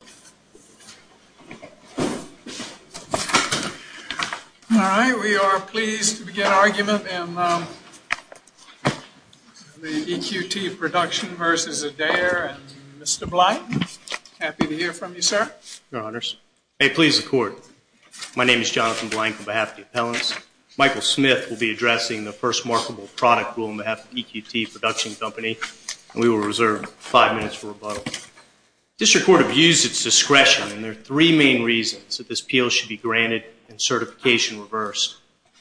Mr. Blank, on behalf of the EQT Production Company, we will reserve 5 minutes for rebuttal. District Court abused its discretion and there are three main reasons that this appeal should be granted and certification reversed.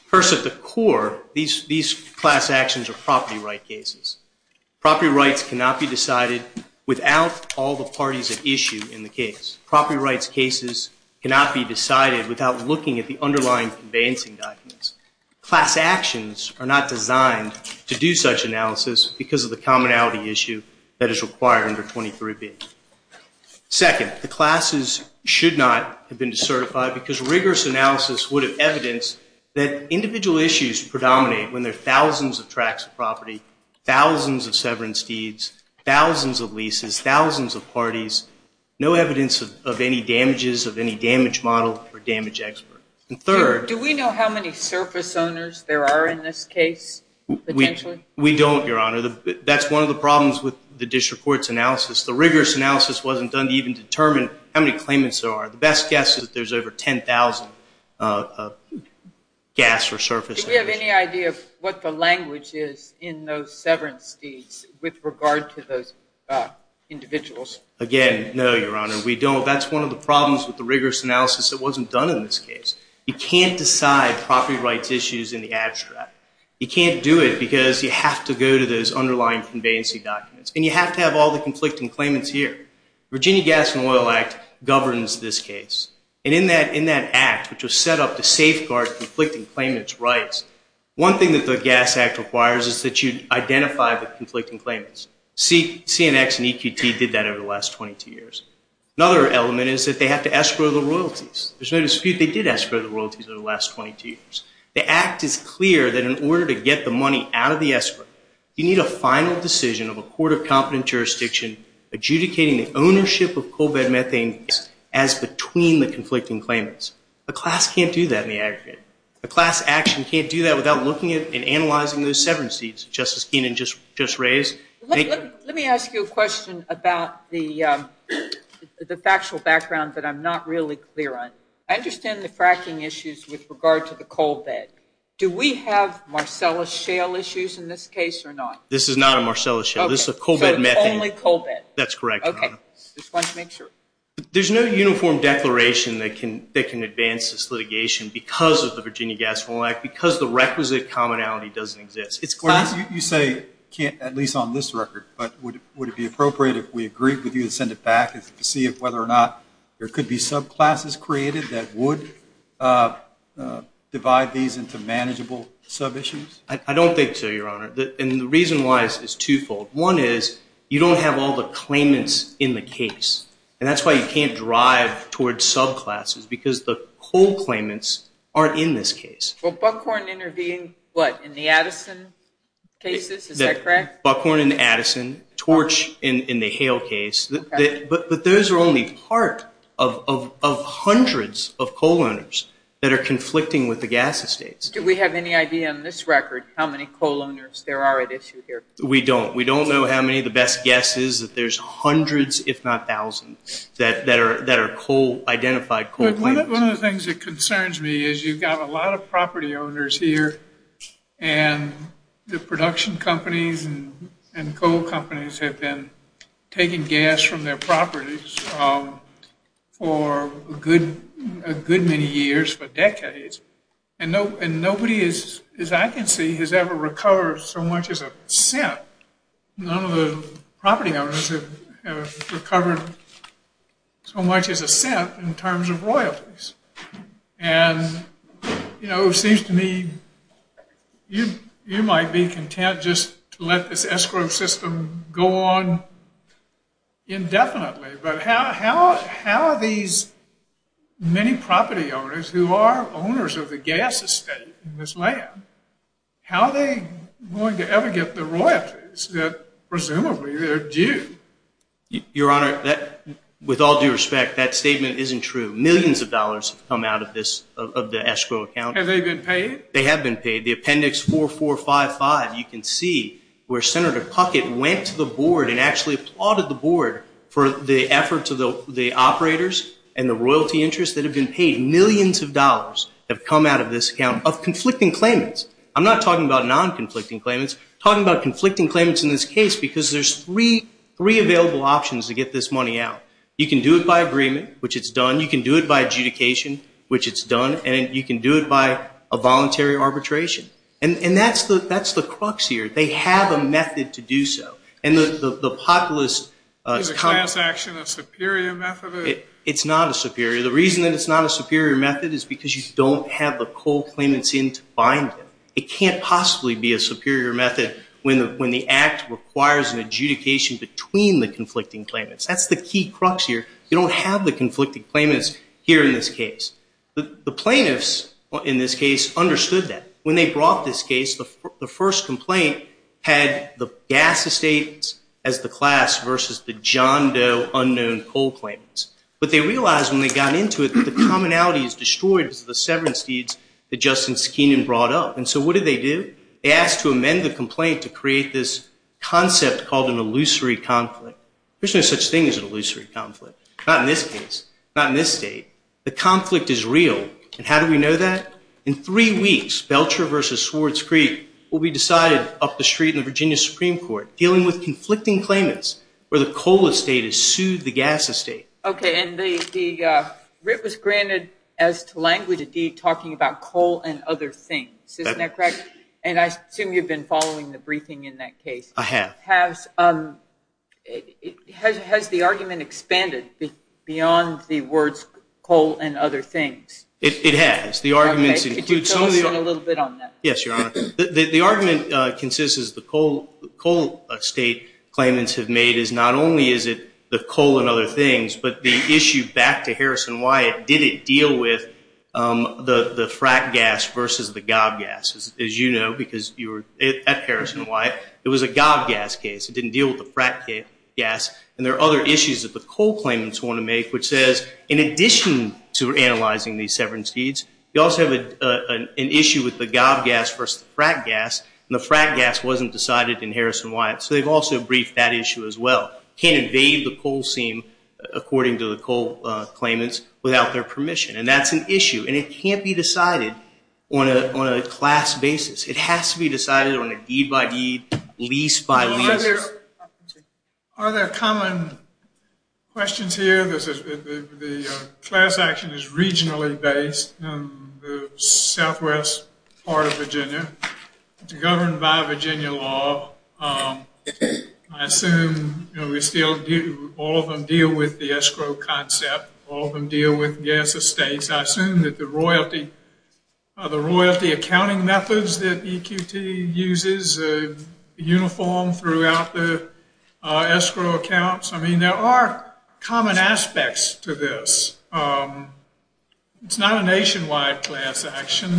First, at the core, these class actions are property right cases. Property rights cannot be decided without all the parties at issue in the case. Property rights cases cannot be decided without looking at the underlying conveyancing documents. Class actions are not designed to do such analysis because of the commonality issue that is required under 23B. Second, the classes should not have been certified because rigorous analysis would have evidenced that individual issues predominate when there are thousands of tracts of property, thousands of severance deeds, thousands of leases, thousands of parties, no evidence of any damages of any damage model or damage expert. Do we know how many surface owners there are in this case? We don't, Your Honor. That's one of the problems with the district court's analysis. The rigorous analysis wasn't done to even determine how many claimants there are. The best guess is that there's over 10,000 gas or surface owners. Do we have any idea of what the language is in those severance deeds with regard to those individuals? Again, no, Your Honor. We don't. Well, that's one of the problems with the rigorous analysis. It wasn't done in this case. You can't decide property rights issues in the abstract. You can't do it because you have to go to those underlying conveyance documents and you have to have all the conflicting claimants here. Virginia Gas and Oil Act governs this case. And in that act, which was set up to safeguard conflicting claimants' rights, one thing that the Gas Act requires is that you identify the conflicting claimants. CNX and EQP did that over the last 22 years. Another element is that they have to escrow the royalties. There's no dispute they did escrow the royalties over the last 22 years. The act is clear that in order to get the money out of the escrow, you need a final decision of a court of competent jurisdiction adjudicating the ownership of coal bed methane as between the conflicting claimants. The class can't do that in the aggregate. The class actually can't do that without looking at and analyzing those severance deeds that Justice Keenan just raised. Let me ask you a question about the factual background that I'm not really clear on. I understand the fracking issues with regard to the coal bed. Do we have Marcellus shale issues in this case or not? This is not a Marcellus shale. This is a coal bed methane. Only coal bed. That's correct. Okay. Just wanted to make sure. There's no uniform declaration that can advance this litigation because of the Virginia Gas and Oil Act, because the requisite commonality doesn't exist. You say can't at least on this record, but would it be appropriate if we agreed with you to send it back to see whether or not there could be subclasses created that would divide these into manageable sub-issues? I don't think so, Your Honor, and the reason why is twofold. One is you don't have all the claimants in the case, and that's why you can't drive towards subclasses because the coal claimants aren't in this case. Well, Buckhorn intervened, what, in the Addison cases? Is that correct? Buckhorn in the Addison, Torch in the shale case, but those are only part of hundreds of coal owners that are conflicting with the gas estate. Do we have any idea on this record how many coal owners there are at issue here? We don't. We don't know how many. The best guess is that there's hundreds, if not thousands, that are identified coal claimants. One of the things that concerns me is you've got a lot of property owners here, and the production companies and coal companies have been taking gas from their properties for a good many years, for decades, and nobody, as I can see, has ever recovered so much as a cent. None of the property owners have recovered so much as a cent in terms of royalties. And, you know, it seems to me you might be content just to let this escrow system go on indefinitely, but how these many property owners who are owners of the gas estate in this land, how are they going to ever get the royalties that presumably are due? Your Honor, with all due respect, that statement isn't true. Millions of dollars have come out of this, of the escrow account. Have they been paid? They have been paid. The appendix 4455, you can see where Senator Puckett went to the board and actually applauded the board for the efforts of the operators and the royalty interest that have been paid. Millions of dollars have come out of this account of conflicting claimants. I'm not talking about non-conflicting claimants. I'm talking about conflicting claimants in this case because there's three available options to get this money out. You can do it by agreement, which it's done. You can do it by adjudication, which it's done. And you can do it by a voluntary arbitration. And that's the crux here. They have a method to do so. And the populist... Is the transaction a superior method? It's not a superior. The reason that it's not a superior method is because you don't have the coal claimants in to bind them. It can't possibly be a superior method when the act requires an adjudication between the conflicting claimants. That's the key crux here. You don't have the conflicting claimants here in this case. The plaintiffs in this case understood that. When they brought this case, the first complaint had the gas estate as the class versus the John Doe unknown coal claimants. But they realized when they got into it that the commonality is destroyed with the severance deeds that Justin Sakinian brought up. And so what did they do? They asked to amend the complaint to create this concept called an illusory conflict. There's no such thing as an illusory conflict. Not in this case. Not in this state. The conflict is real. And how do we know that? In three weeks, Belcher versus Swartz Creek, will be decided up the street in Virginia Supreme Court dealing with conflicting claimants where the coal estate has sued the gas estate. Okay. And the writ was granted as to language of deed talking about coal and other things. Isn't that correct? And I assume you've been following the briefing in that case. I have. Has the argument expanded beyond the words coal and other things? It has. The arguments include so many… If you could go in a little bit on that. Yes, Your Honor. The argument consists of the coal estate claimants have made is not only is it the coal and other things, but the issue back to Harrison-Wyatt, did it deal with the frack gas versus the gob gas? As you know, because you were at Harrison-Wyatt, it was a gob gas case. It didn't deal with the frack gas. And there are other issues that the coal claimants want to make, which says, in addition to analyzing these severance deeds, you also have an issue with the gob gas versus the frack gas. And the frack gas wasn't decided in Harrison-Wyatt. So, they've also briefed that issue as well. Can't invade the coal seam, according to the coal claimants, without their permission. And that's an issue. And it can't be decided on a class basis. It has to be decided on a deed by deed, lease by lease. Are there common questions here? The class action is regionally based in the southwest part of Virginia. It's governed by Virginia law. I assume all of them deal with the escrow concept. All of them deal with gas estates. I assume that the royalty accounting methods that EQT uses are uniform throughout the escrow accounts. I mean, there are common aspects to this. It's not a nationwide class action.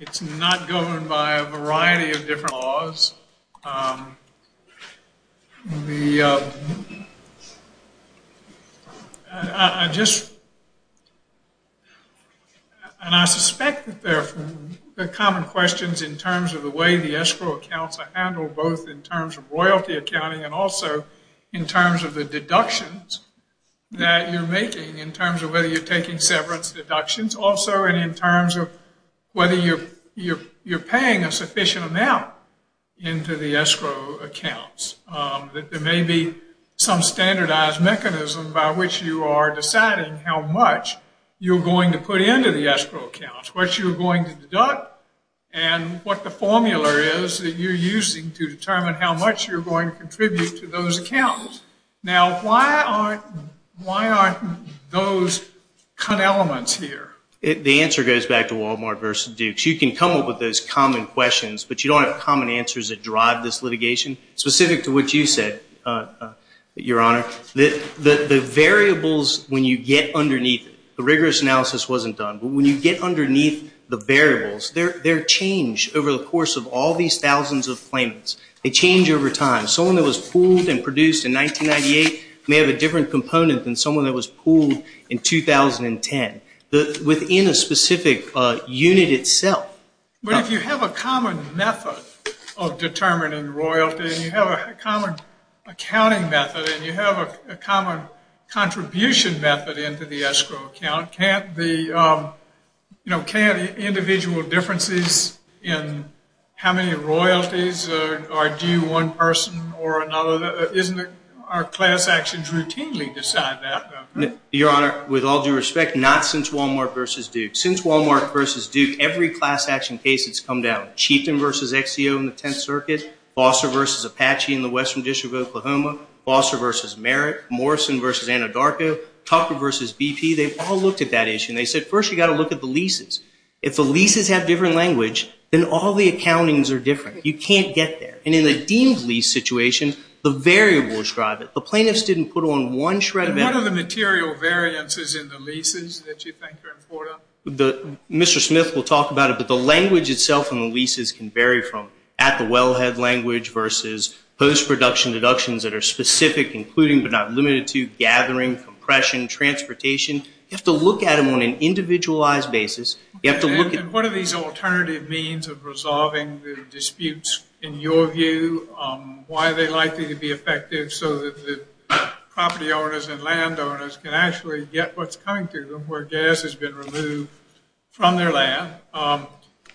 It's not governed by a variety of different laws. I just, and I suspect that there are common questions in terms of the way the escrow accounts are handled, both in terms of royalty accounting, and also in terms of the deductions that you're making, in terms of whether you're taking severance deductions. Also, in terms of whether you're paying a sufficient amount. into the escrow accounts, that there may be some standardized mechanism by which you are deciding how much you're going to put into the escrow accounts, what you're going to deduct, and what the formula is that you're using to determine how much you're going to contribute to those accounts. Now, why aren't those elements here? The answer goes back to Walmart versus Dukes. You can come up with those common questions, but you don't have common answers that drive this litigation, specific to what you said, Your Honor. The variables, when you get underneath, the rigorous analysis wasn't done, but when you get underneath the variables, they're changed over the course of all these thousands of claimants. They change over time. Someone that was pooled and produced in 1998 may have a different component than someone that was pooled in 2010. Within a specific unit itself. But if you have a common method of determining royalty, and you have a common accounting method, and you have a common contribution method into the escrow account, can't the individual differences in how many royalties are due one person or another? Isn't it our class actions routinely decide that? Your Honor, with all due respect, not since Walmart versus Dukes. Since Walmart versus Dukes, every class action case has come down. Cheatham versus XCO in the 10th Circuit. Foster versus Apache in the Western District of Oklahoma. Foster versus Merritt. Morrison versus Anadarko. Tucker versus BP. They've all looked at that issue, and they said, first you've got to look at the leases. If the leases have different language, then all the accountings are different. You can't get there. And in the deemed lease situation, the variables drive it. The plaintiffs didn't put on one shred of evidence. What are the material variances in the leases that you think are important? Mr. Smith will talk about it, but the language itself in the leases can vary from at-the-wellhead language versus post-production deductions that are specific, including but not limited to gathering, compression, transportation. You have to look at them on an individualized basis. What are these alternative means of resolving the disputes in your view? Why are they likely to be effective so that the property owners and landowners can actually get what's coming to them where gas has been removed from their land?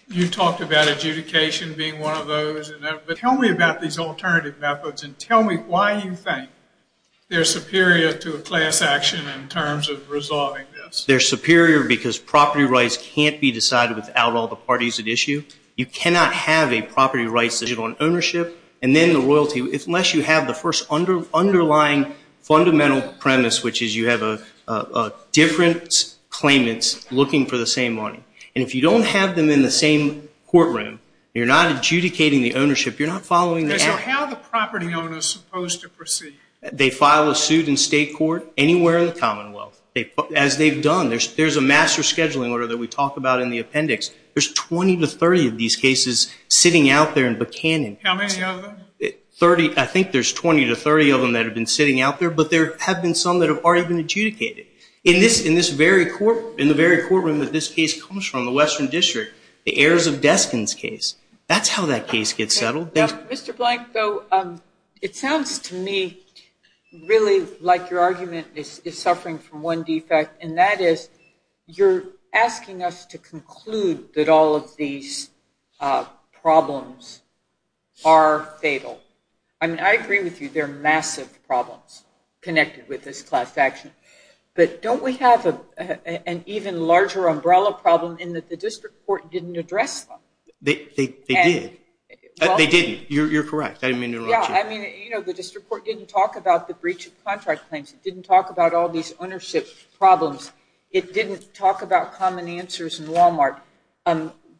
You talked about adjudication being one of those. Tell me about these alternative methods, and tell me why you think they're superior to a class action in terms of resolving this. They're superior because property rights can't be decided without all the parties at issue. You cannot have a property rights decision on ownership and then the royalty unless you have the first underlying fundamental premise, which is you have a different claimant looking for the same money. If you don't have them in the same courtroom, you're not adjudicating the ownership. You're not following the action. How are the property owners supposed to proceed? They file a suit in state court, anywhere in the common law. As they've done, there's a master scheduling order that we talk about in the appendix. There's 20 to 30 of these cases sitting out there in Buchanan. How many of them? I think there's 20 to 30 of them that have been sitting out there, but there have been some that aren't even adjudicated. In the very courtroom that this case comes from, the Western District, the Heirs of Destiny's case, that's how that case gets settled. Mr. Blank, it sounds to me really like your argument is suffering from one defect, and that is you're asking us to conclude that all of these problems are fatal. I agree with you. There are massive problems connected with this class action, but don't we have an even larger umbrella problem in that the district court didn't address them? They did. They did. You're correct. I mean, the district court didn't talk about the breach of contract claims. It didn't talk about all these ownership problems. It didn't talk about common answers in Walmart.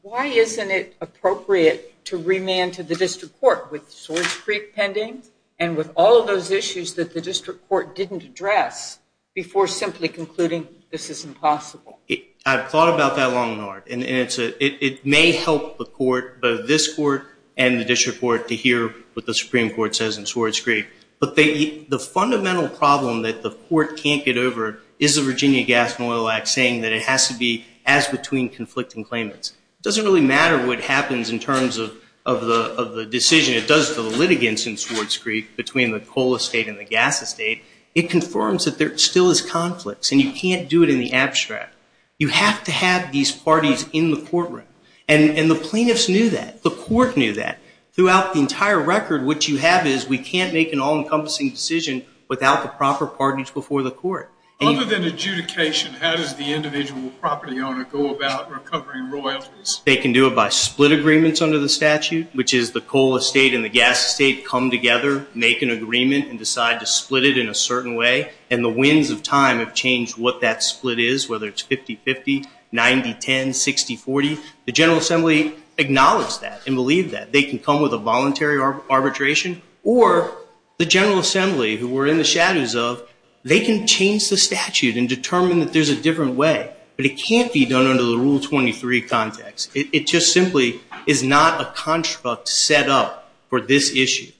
Why isn't it appropriate to remand to the district court with Swords Creek pending and with all of those issues that the district court didn't address before simply concluding this is impossible? I've thought about that long and hard, and it may help the court, both this court and the district court, to hear what the Supreme Court says in Swords Creek. The fundamental problem that the court can't get over is the Virginia Gas and Oil Act saying that it has to be as between conflicting claimants. It doesn't really matter what happens in terms of the decision. It does the litigants in Swords Creek between the coal estate and the gas estate. It confirms that there still is conflict, and you can't do it in the abstract. You have to have these parties in the courtroom, and the plaintiffs knew that. The court knew that. Throughout the entire record, what you have is we can't make an all-encompassing decision without the proper parties before the court. They can do it by split agreements under the statute, which is the coal estate and the gas estate come together, make an agreement, and decide to split it in a certain way, and the winds of time have changed what that split is, whether it's 50-50, 90-10, 60-40. The General Assembly acknowledged that and believed that. They can come with a voluntary arbitration, or the General Assembly, who we're in the shadows of, they can change the statute and determine that there's a different way, but it can't be done under the Rule 23 context. It just simply is not a construct set up for this issue.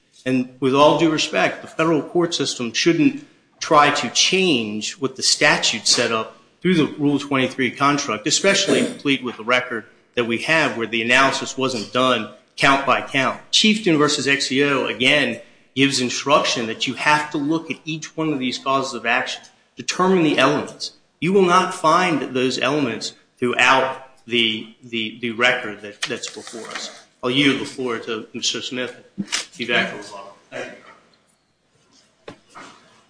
With all due respect, the federal court system shouldn't try to change what the statute set up through the Rule 23 construct, especially with the record that we have where the analysis wasn't done count-by-count. Chieftain v. XCO, again, gives instruction that you have to look at each one of these causes of action, determine the elements. You will not find those elements throughout the record that's before us. I'll yield the floor to Mr. Smith.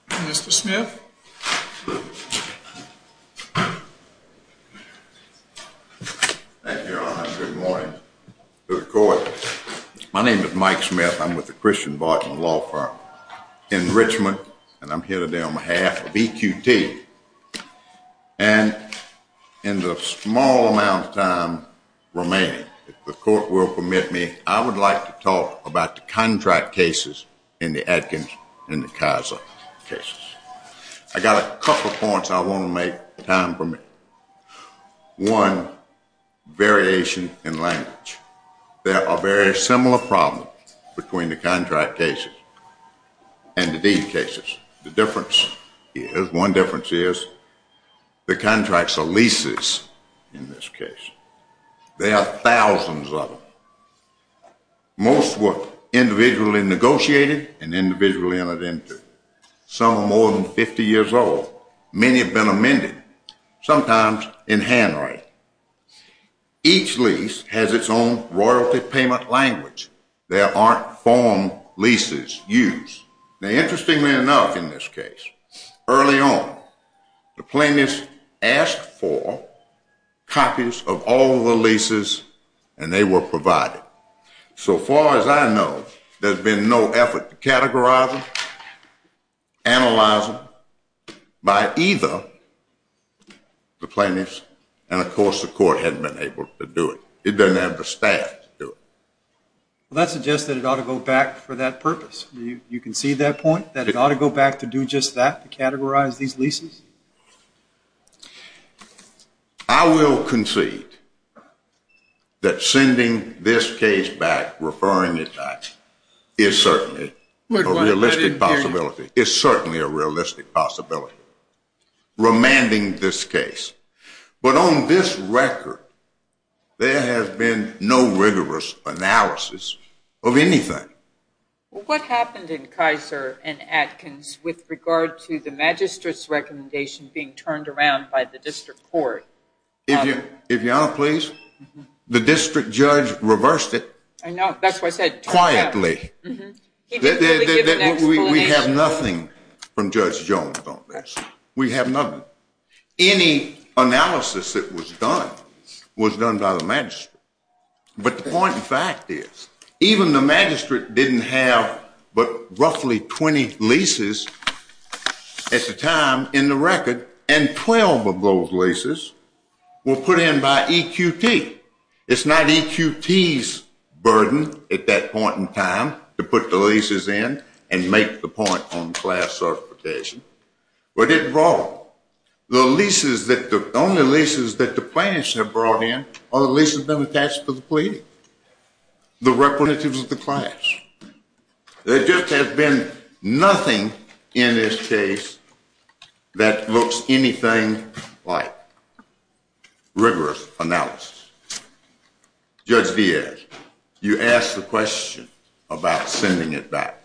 Mr. Smith? Thank you, Your Honor. Good morning to the court. My name is Mike Smith. I'm with the Christian Barton Law Firm in Richmond, and I'm here today on behalf of EQT. And in the small amount of time remaining, if the court will permit me, I would like to talk about the contract cases in the Atkins and the Kaiser cases. I've got a couple points I want to make time for me. One, variation in language. There are very similar problems between the contract cases and the deed cases. The difference is, one difference is, the contracts are leases in this case. There are thousands of them. Most were individually negotiated and individually entered into. Some are more than 50 years old. Many have been amended, sometimes in handwriting. Each lease has its own royalty payment language. There aren't form leases used. Now, interestingly enough in this case, early on, the plaintiff asked for copies of all the leases, and they were provided. So far as I know, there's been no effort to categorize them, analyze them by either the plaintiffs, and of course the court hasn't been able to do it. It doesn't have the staff to do it. Well, that suggests that it ought to go back for that purpose. You concede that point, that it ought to go back to do just that, to categorize these leases? I will concede that sending this case back, referring it back, is certainly a realistic possibility, is certainly a realistic possibility, remanding this case. But on this record, there has been no rigorous analysis of anything. What happened in Kaiser and Atkins with regard to the magistrate's recommendation being turned around by the district court? If you'll allow, please. The district judge reversed it quietly. We have nothing from Judge Jones on this. We have nothing. Any analysis that was done was done by the magistrate. But the point in fact is, even the magistrate didn't have but roughly 20 leases at the time in the record, and 12 of those leases were put in by EQT. It's not EQT's burden at that point in time to put the leases in and make the point on class certification. But it's wrong. The only leases that the plaintiffs have brought in are the leases that were attached to the plea, the requisites of the class. There just has been nothing in this case that looks anything like rigorous analysis. Judge Diaz, you asked the question about sending it back.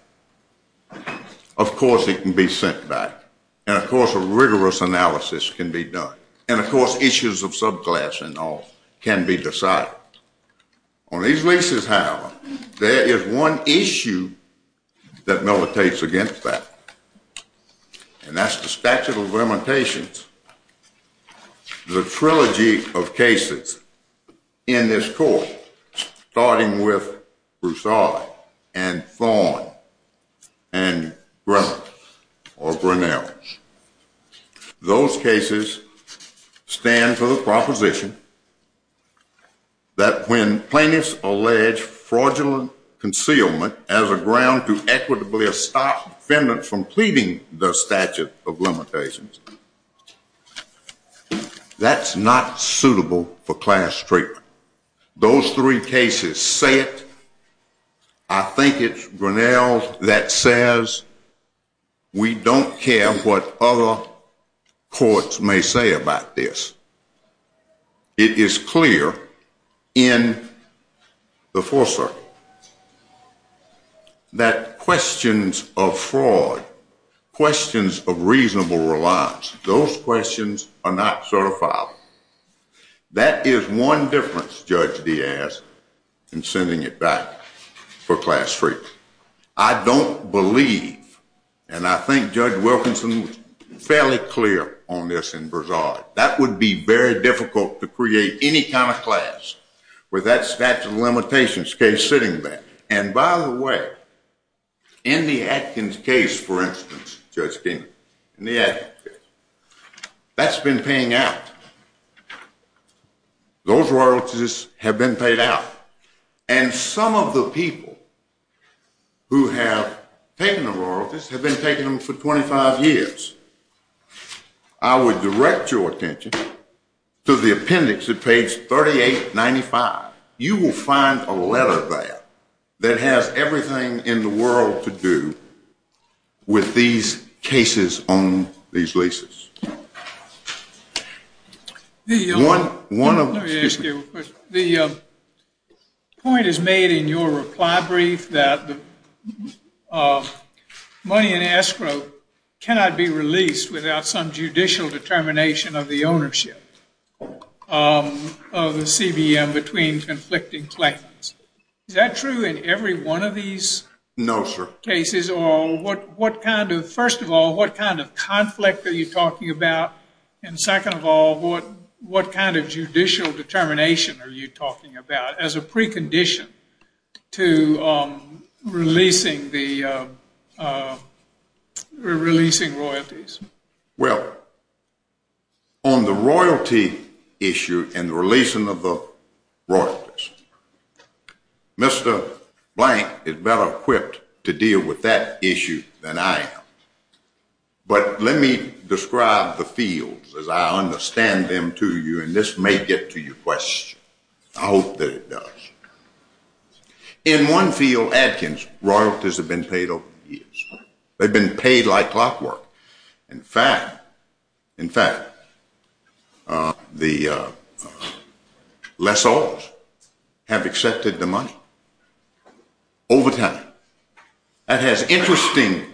Of course it can be sent back, and of course a rigorous analysis can be done, and of course issues of subclass and all can be decided. On these leases, however, there is one issue that militates against that, and that's the statute of limitations. The trilogy of cases in this court, starting with Broussard and Thorne or Grinnell, those cases stand for the proposition that when plaintiffs allege fraudulent concealment as a ground to equitably stop defendants from pleading the statute of limitations, that's not suitable for class treatment. Those three cases say it. I think it's Grinnell's that says we don't care what other courts may say about this. It is clear in the Fourth Circuit that questions of fraud, questions of reasonable reliance, those questions are not certified. That is one difference, Judge Diaz, in sending it back for class treatment. I don't believe, and I think Judge Wilkinson is fairly clear on this in Broussard, that would be very difficult to create any kind of class with that statute of limitations case sitting there. And by the way, in the Atkins case, for instance, Judge Kinney, in the Atkins case, that's been paying out. Those royalties have been paid out. And some of the people who have taken the royalties have been taking them for 25 years. I would direct your attention to the appendix at page 3895. You will find a letter there that has everything in the world to do with these cases on these leases. Let me ask you a question. The point is made in your reply brief that money in escrow cannot be released without some judicial determination of the ownership of the CBM between conflicting claimants. Is that true in every one of these cases? No, sir. First of all, what kind of conflict are you talking about? And second of all, what kind of judicial determination are you talking about as a precondition to releasing royalties? Well, on the royalty issue and the releasing of the royalties, Mr. Blank is better equipped to deal with that issue than I am. But let me describe the fields as I understand them to you, and this may get to your question. I hope that it does. In one field, Adkins, royalties have been paid over the years. They've been paid like clockwork. In fact, the lessors have accepted the money over time. That has interesting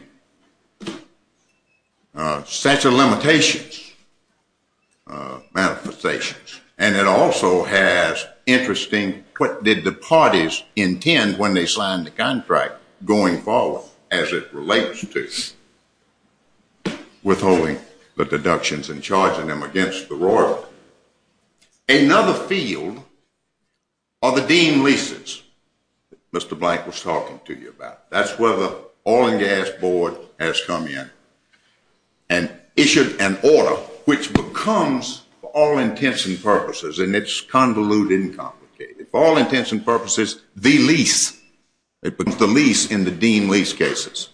sets of limitations, manifestations, and it also has interesting what did the parties intend when they signed the contract going forward as it relates to withholding the deductions and charging them against the royalty. Another field are the deemed leases that Mr. Blank was talking to you about. That's where the Oil and Gas Board has come in and issued an order which becomes, for all intents and purposes, and it's convoluted and complicated, for all intents and purposes, the lease. It becomes the lease in the deemed lease cases.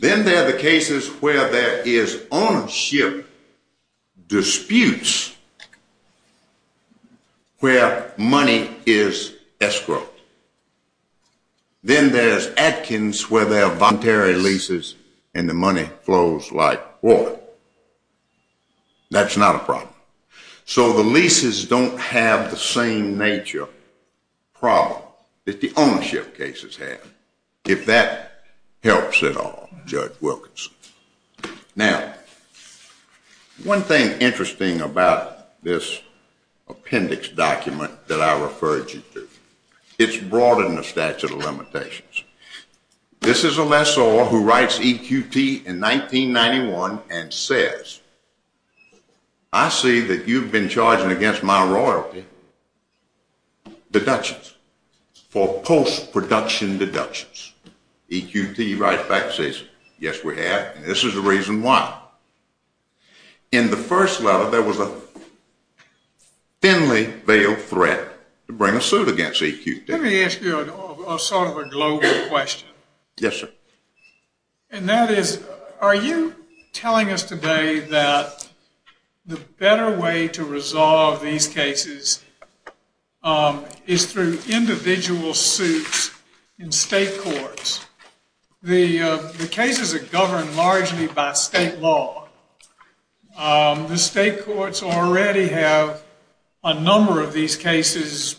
Then there are the cases where there is ownership disputes where money is escrowed. Then there's Adkins where there are voluntary leases and the money flows like water. That's not a problem. So the leases don't have the same nature problem that the ownership cases have. If that helps at all, Judge Wilkinson. Now, one thing interesting about this appendix document that I referred you to, it's brought in the statute of limitations. This is a lessor who writes EQT in 1991 and says, I see that you've been charging against my royalty deductions for post-production deductions. EQT writes back and says, yes, we have, and this is the reason why. In the first letter, there was a thinly veiled threat to bring a suit against EQT. Let me ask you sort of a global question. Yes, sir. And that is, are you telling us today that the better way to resolve these cases is through individual suits in state courts? The cases are governed largely by state law. The state courts already have a number of these cases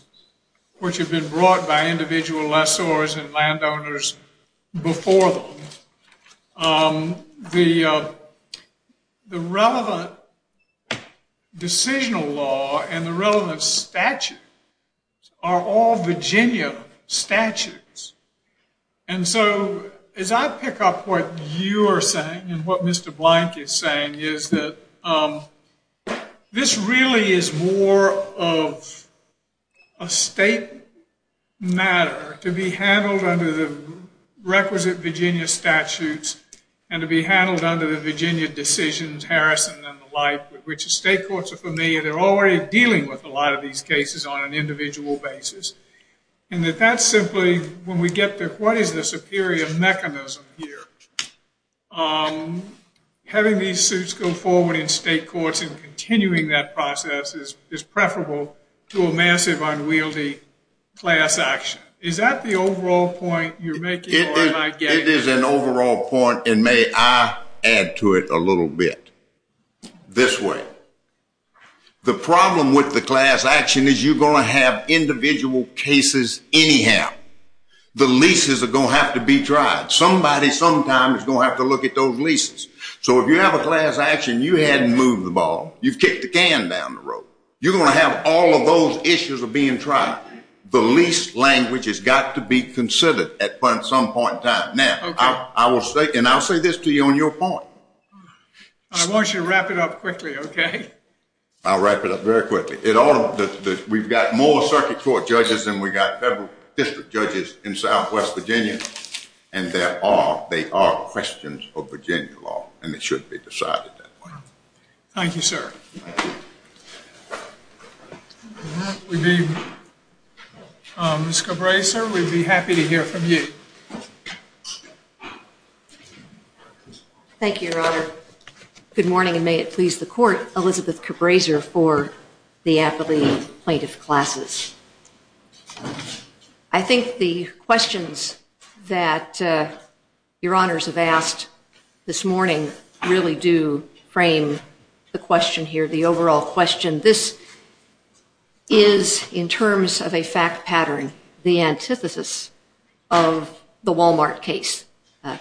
which have been brought by individual lessors and landowners before them. The relevant decisional law and the relevant statute are all Virginia statutes. And so, as I pick up what you are saying and what Mr. Blank is saying, is that this really is more of a state matter to be handled under the requisite Virginia statutes and to be handled under the Virginia decisions, Harrison and the like, which the state courts are familiar. They're already dealing with a lot of these cases on an individual basis. And that's simply, when we get to what is the superior mechanism here, having these suits go forward in state courts and continuing that process is preferable to a massive unwieldy class action. Is that the overall point you're making? It is an overall point, and may I add to it a little bit this way. The problem with the class action is you're going to have individual cases anyhow. The leases are going to have to be tried. Somebody sometime is going to have to look at those leases. So, if you have a class action, you hadn't moved the ball. You kicked the can down the road. You're going to have all of those issues being tried. The lease language has got to be considered at some point in time. Now, I will say, and I'll say this to you on your point. I want you to wrap it up quickly, okay? I'll wrap it up very quickly. We've got more circuit court judges than we've got federal district judges in southwest Virginia. They are questions of Virginia law, and it should be decided that way. Thank you, sir. Ms. Cabresa, we'd be happy to hear from you. Thank you, Your Honor. Good morning, and may it please the court. Elizabeth Cabresa for the athlete plaintiff's classes. I think the questions that Your Honors have asked this morning really do frame the question here, the overall question. This is, in terms of a fact pattern, the antithesis of the Walmart case.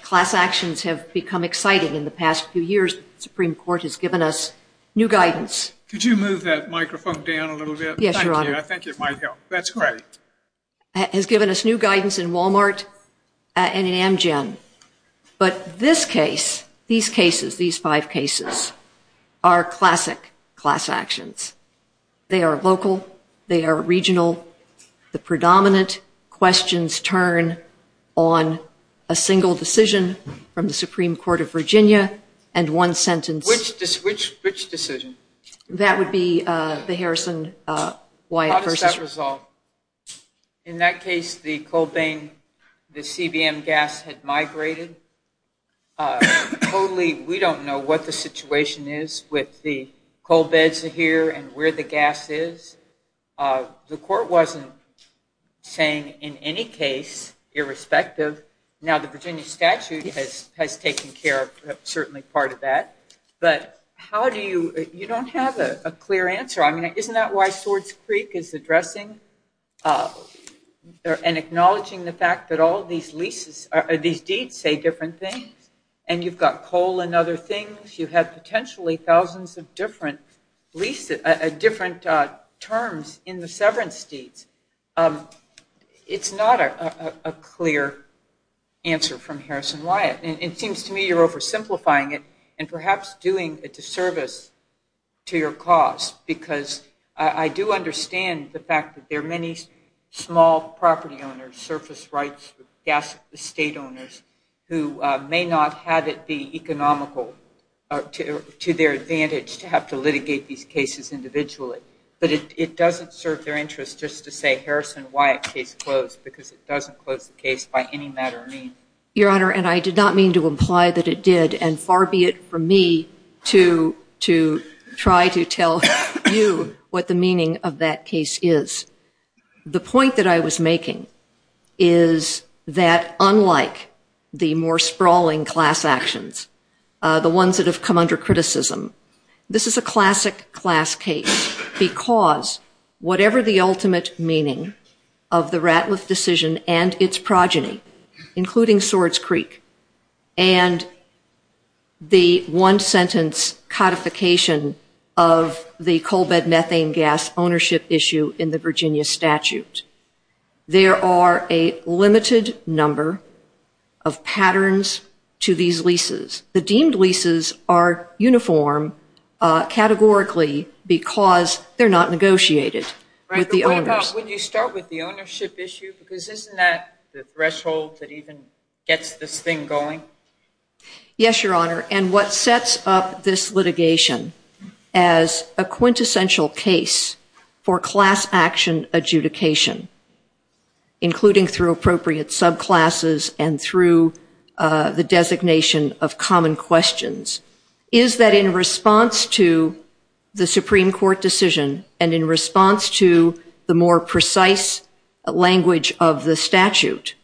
Class actions have become exciting in the past few years. The Supreme Court has given us new guidance. Could you move that microphone down a little bit? Yes, Your Honor. I think it might help. That's great. Has given us new guidance in Walmart and in Amgen. But this case, these cases, these five cases, are classic class actions. They are local. They are regional. The predominant questions turn on a single decision from the Supreme Court of Virginia and one sentence. Which decision? That would be the Harrison-Wyatt version. I'll just add as well. In that case, the coal vein, the CBM gas had migrated. Totally, we don't know what the situation is with the coal beds here and where the gas is. The court wasn't saying in any case, irrespective. Now, the Virginia statute has taken care of certainly part of that. But how do you, you don't have a clear answer. I mean, isn't that why Swords Creek is addressing and acknowledging the fact that all these deeds say different things? And you've got coal and other things. You have potentially thousands of different terms in the severance deeds. It's not a clear answer from Harrison-Wyatt. It seems to me you're oversimplifying it. And perhaps doing a disservice to your cause. Because I do understand the fact that there are many small property owners, surface rights, gas estate owners, who may not have it be economical to their advantage to have to litigate these cases individually. But it doesn't serve their interest just to say Harrison-Wyatt case closed because it doesn't close the case by any matter of means. Your Honor, and I did not mean to imply that it did. And far be it from me to try to tell you what the meaning of that case is. The point that I was making is that unlike the more sprawling class actions, the ones that have come under criticism, this is a classic class case. Because whatever the ultimate meaning of the Ratliff decision and its progeny, including Swords Creek, and the one sentence codification of the coal bed methane gas ownership issue in the Virginia statute, there are a limited number of patterns to these leases. The deemed leases are uniform categorically because they're not negotiated with the owners. But what about when you start with the ownership issue? Because isn't that the threshold that even gets this thing going? Yes, Your Honor. And what sets up this litigation as a quintessential case for class action adjudication, including through appropriate subclasses and through the designation of common questions, is that in response to the Supreme Court decision and in response to the more precise language of the statute,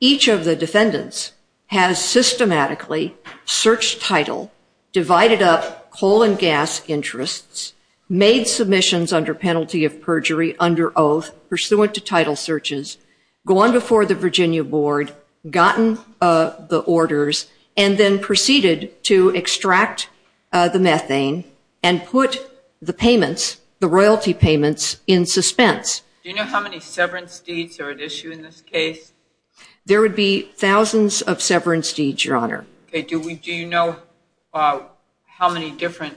each of the defendants has systematically searched title, divided up coal and gas interests, made submissions under penalty of perjury under oath pursuant to title searches, gone before the Virginia board, gotten the orders, and then proceeded to extract the methane and put the payments, the royalty payments, in suspense. Do you know how many severance deeds are at issue in this case? There would be thousands of severance deeds, Your Honor. Do you know how many different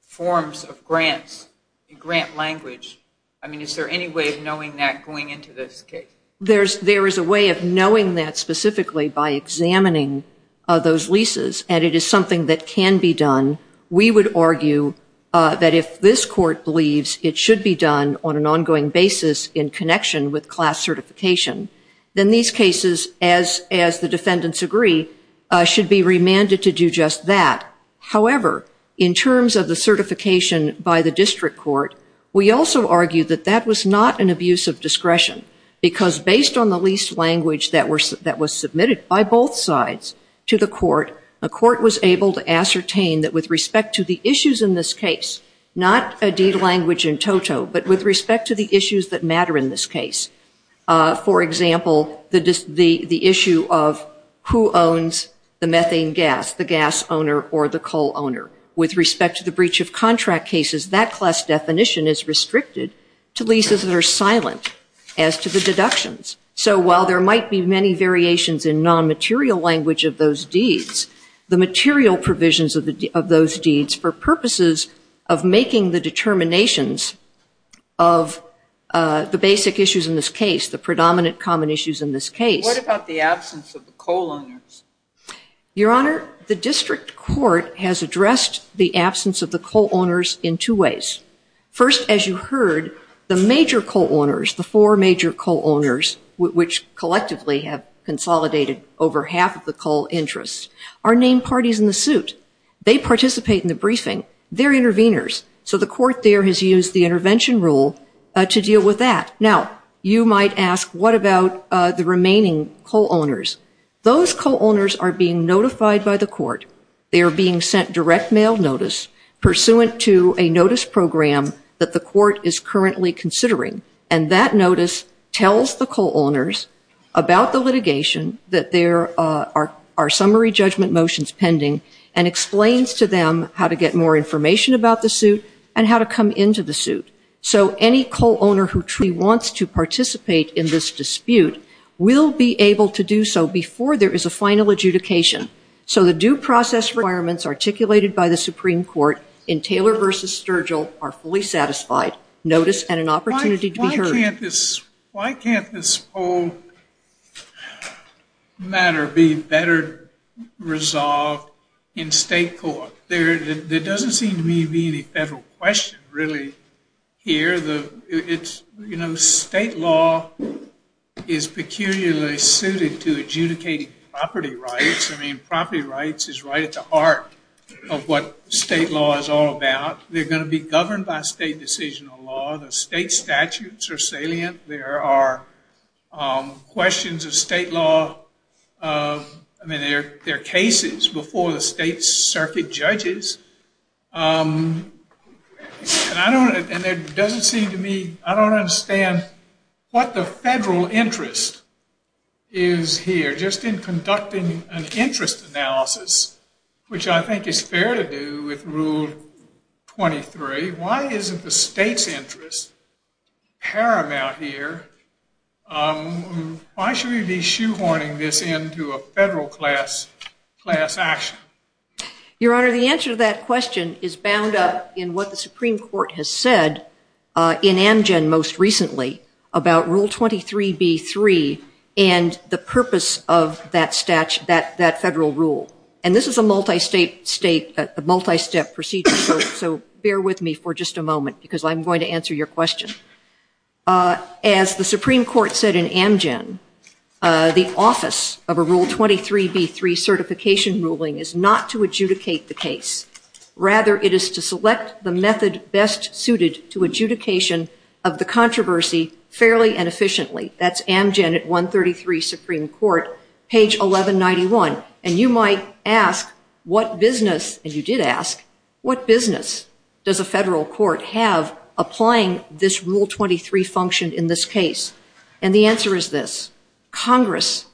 forms of grants in grant language? I mean, is there any way of knowing that going into this case? There is a way of knowing that specifically by examining those leases, and it is something that can be done. We would argue that if this court believes it should be done on an ongoing basis in connection with class certification, then these cases, as the defendants agree, should be remanded to do just that. However, in terms of the certification by the district court, we also argue that that was not an abuse of discretion because based on the lease language that was submitted by both sides to the court, the court was able to ascertain that with respect to the issues in this case, not a deed language in toto, but with respect to the issues that matter in this case. For example, the issue of who owns the methane gas, the gas owner or the coal owner. With respect to the breach of contract cases, that class definition is restricted to leases that are silent as to the deductions. So while there might be many variations in non-material language of those deeds, the material provisions of those deeds for purposes of making the determinations of the basic issues in this case, the predominant common issues in this case. What about the absence of the coal owners? Your Honor, the district court has addressed the absence of the coal owners in two ways. First, as you heard, the major coal owners, the four major coal owners, which collectively have consolidated over half of the coal interests, are named parties in the suit. They participate in the briefing. They're interveners. So the court there has used the intervention rule to deal with that. Now, you might ask, what about the remaining coal owners? Those coal owners are being notified by the court. They are being sent direct mail notice pursuant to a notice program that the court is currently considering. And that notice tells the coal owners about the litigation, that there are summary judgment motions pending, and explains to them how to get more information about the suit and how to come into the suit. So any coal owner who truly wants to participate in this dispute will be able to do so before there is a final adjudication. So the due process requirements articulated by the Supreme Court in Taylor v. Sturgill are fully satisfied. Why can't this whole matter be better resolved in state court? There doesn't seem to be any federal question really here. You know, state law is peculiarly suited to adjudicating property rights. I mean, property rights is right at the heart of what state law is all about. They're going to be governed by state decisional law. The state statutes are salient. There are questions of state law. I mean, there are cases before the state circuit judges. And it doesn't seem to me, I don't understand what the federal interest is here. They're just conducting an interest analysis, which I think is fair to do with Rule 23. Why isn't the state's interest paramount here? Why should we be shoehorning this into a federal class action? Your Honor, the answer to that question is bound up in what the Supreme Court has said in Amgen most recently about Rule 23b-3 and the purpose of that federal rule. And this is a multi-state procedure, so bear with me for just a moment because I'm going to answer your question. As the Supreme Court said in Amgen, the office of a Rule 23b-3 certification ruling is not to adjudicate the case. Rather, it is to select the method best suited to adjudication of the controversy fairly and efficiently. That's Amgen at 133 Supreme Court, page 1191. And you might ask what business, and you did ask, what business does a federal court have applying this Rule 23 function in this case? And the answer is this. Congress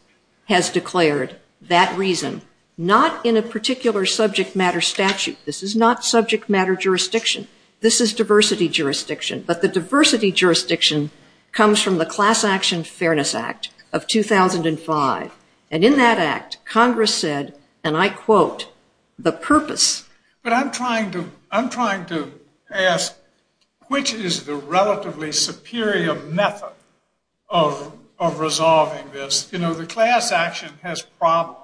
has declared that reason, not in a particular subject matter statute. This is not subject matter jurisdiction. This is diversity jurisdiction. But the diversity jurisdiction comes from the Class Action Fairness Act of 2005. And in that act, Congress said, and I quote, the purpose. But I'm trying to ask which is the relatively superior method of resolving this. You know, the class action has problems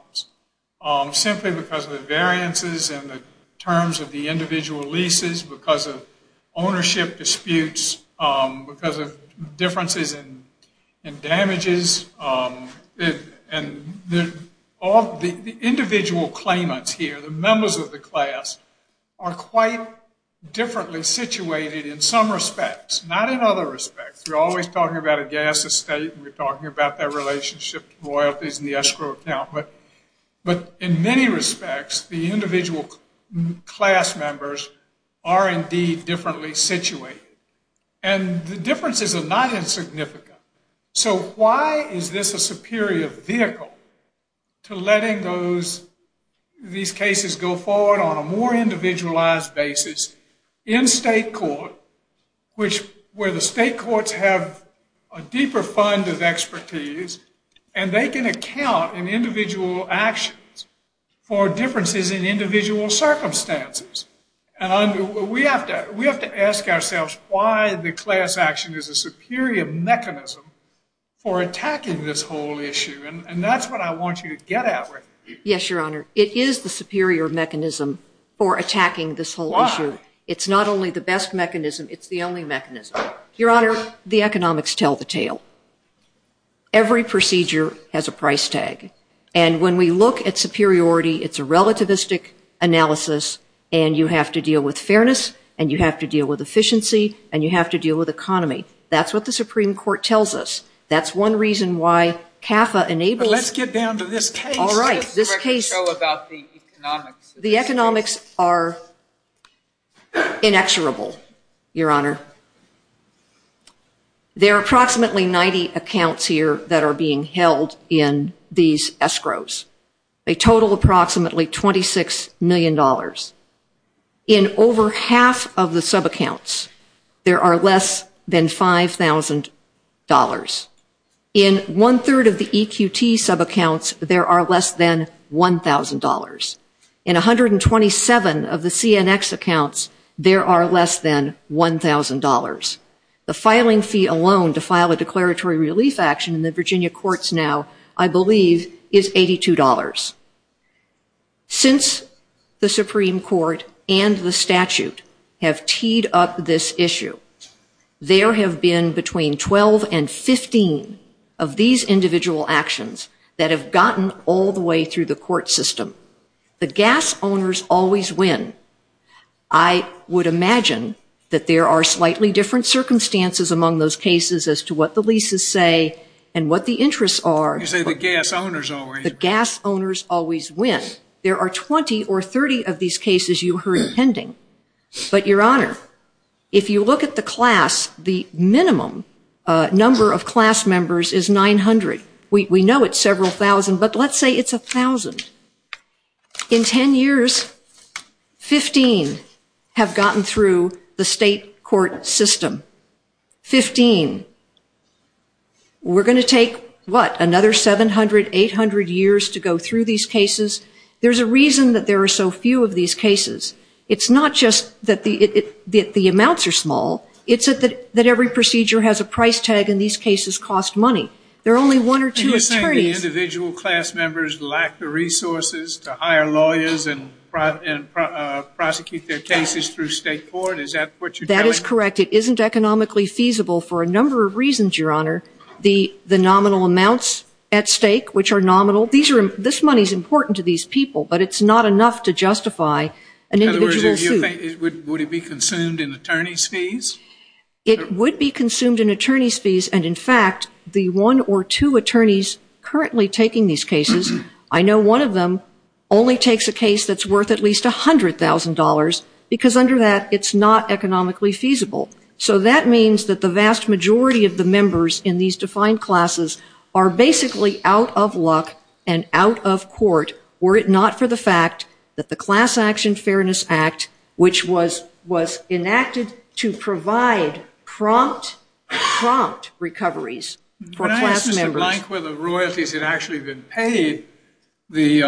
simply because of the variances in the terms of the individual leases, because of ownership disputes, because of differences in damages. And the individual claimants here, the members of the class, are quite differently situated in some respects, not in other respects. You're always talking about a gas estate, and you're talking about their relationship to royalties and the escrow account. But in many respects, the individual class members are indeed differently situated. And the differences are not insignificant. So why is this a superior vehicle to letting these cases go forward on a more individualized basis in state court, where the state courts have a deeper fund of expertise, and they can account in individual actions for differences in individual circumstances? And we have to ask ourselves why the class action is a superior mechanism for attacking this whole issue. And that's what I want you to get at. Yes, Your Honor. It is the superior mechanism for attacking this whole issue. Why? It's not only the best mechanism, it's the only mechanism. Your Honor, the economics tell the tale. Every procedure has a price tag. And when we look at superiority, it's a relativistic analysis, and you have to deal with fairness, and you have to deal with efficiency, and you have to deal with economy. That's what the Supreme Court tells us. That's one reason why CAFA enables… Let's get down to this case. All right. This case… …about the economics. The economics are inexorable, Your Honor. There are approximately 90 accounts here that are being held in these escrows. They total approximately $26 million. In over half of the subaccounts, there are less than $5,000. In one-third of the EQT subaccounts, there are less than $1,000. In 127 of the CNX accounts, there are less than $1,000. The filing fee alone to file a declaratory relief action in the Virginia courts now, I believe, is $82. Since the Supreme Court and the statute have teed up this issue, there have been between 12 and 15 of these individual actions that have gotten all the way through the court system. The gas owners always win. I would imagine that there are slightly different circumstances among those cases as to what the leases say and what the interests are. You say the gas owners always win. The gas owners always win. There are 20 or 30 of these cases you heard pending. I don't know the exact number, but your Honor, if you look at the class, the minimum number of class members is 900. We know it's several thousand, but let's say it's 1,000. In 10 years, 15 have gotten through the state court system. 15. We're going to take, what, another 700, 800 years to go through these cases? There's a reason that there are so few of these cases. It's not just that the amounts are small. It's that every procedure has a price tag, and these cases cost money. There are only one or two attorneys. You're saying the individual class members lack the resources to hire lawyers and prosecute their cases through state court? Is that what you're saying? That is correct. It isn't economically feasible for a number of reasons, your Honor. The nominal amounts at stake, which are nominal, this money is important to these people, but it's not enough to justify an individual suit. Would it be consumed in attorney's fees? It would be consumed in attorney's fees, and in fact, the one or two attorneys currently taking these cases, I know one of them only takes a case that's worth at least $100,000, because under that, it's not economically feasible. So that means that the vast majority of the members in these defined classes are basically out of luck and out of court, were it not for the fact that the Class Action Fairness Act, which was enacted to provide prompt, prompt recoveries for class members. When I asked Mr. Blank whether royalties had actually been paid, the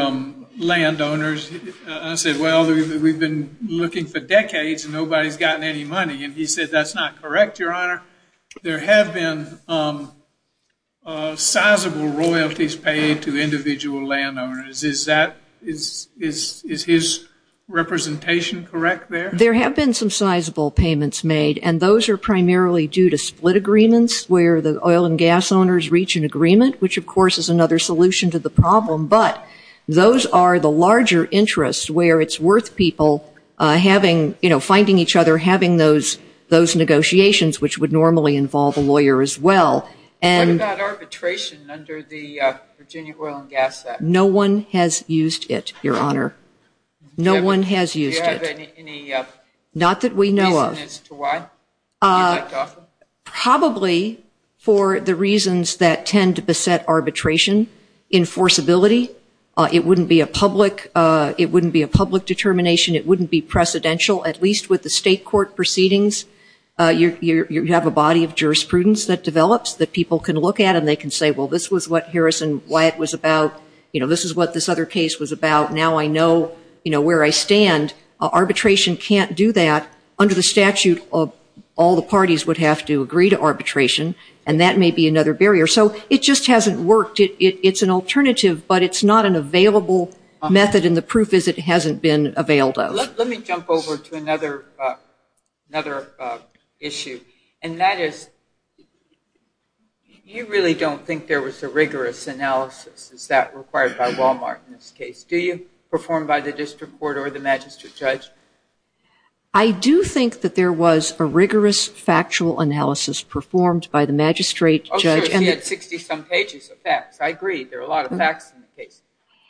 landowners, I said, well, we've been looking for decades and nobody's gotten any money, and he said, that's not correct, your Honor. There have been sizable royalties paid to individual landowners. Is that – is his representation correct there? There have been some sizable payments made, and those are primarily due to split agreements, where the oil and gas owners reach an agreement, which of course is another solution to the problem, but those are the larger interests where it's worth people having, you know, finding each other, having those negotiations, which would normally involve a lawyer as well. What about arbitration under the Virginia Oil and Gas Act? No one has used it, your Honor. No one has used it. Do you have any evidence as to why? Probably for the reasons that tend to beset arbitration. Enforceability. It wouldn't be a public – it wouldn't be a public determination. It wouldn't be precedential, at least with the state court proceedings. You have a body of jurisprudence that develops that people can look at and they can say, well, this was what Harrison Wyatt was about. You know, this is what this other case was about. Now I know, you know, where I stand. Arbitration can't do that under the statute of – all the parties would have to agree to arbitration, and that may be another barrier. So it just hasn't worked. It's an alternative, but it's not an available method, and the proof is it hasn't been available. Let me jump over to another issue, and that is you really don't think there was a rigorous analysis as that required by Walmart in this case. Do you perform by the district court or the magistrate's judge? I do think that there was a rigorous factual analysis performed by the magistrate's judge. Okay, but he had 60-some pages of facts. I agree. There are a lot of facts in the case.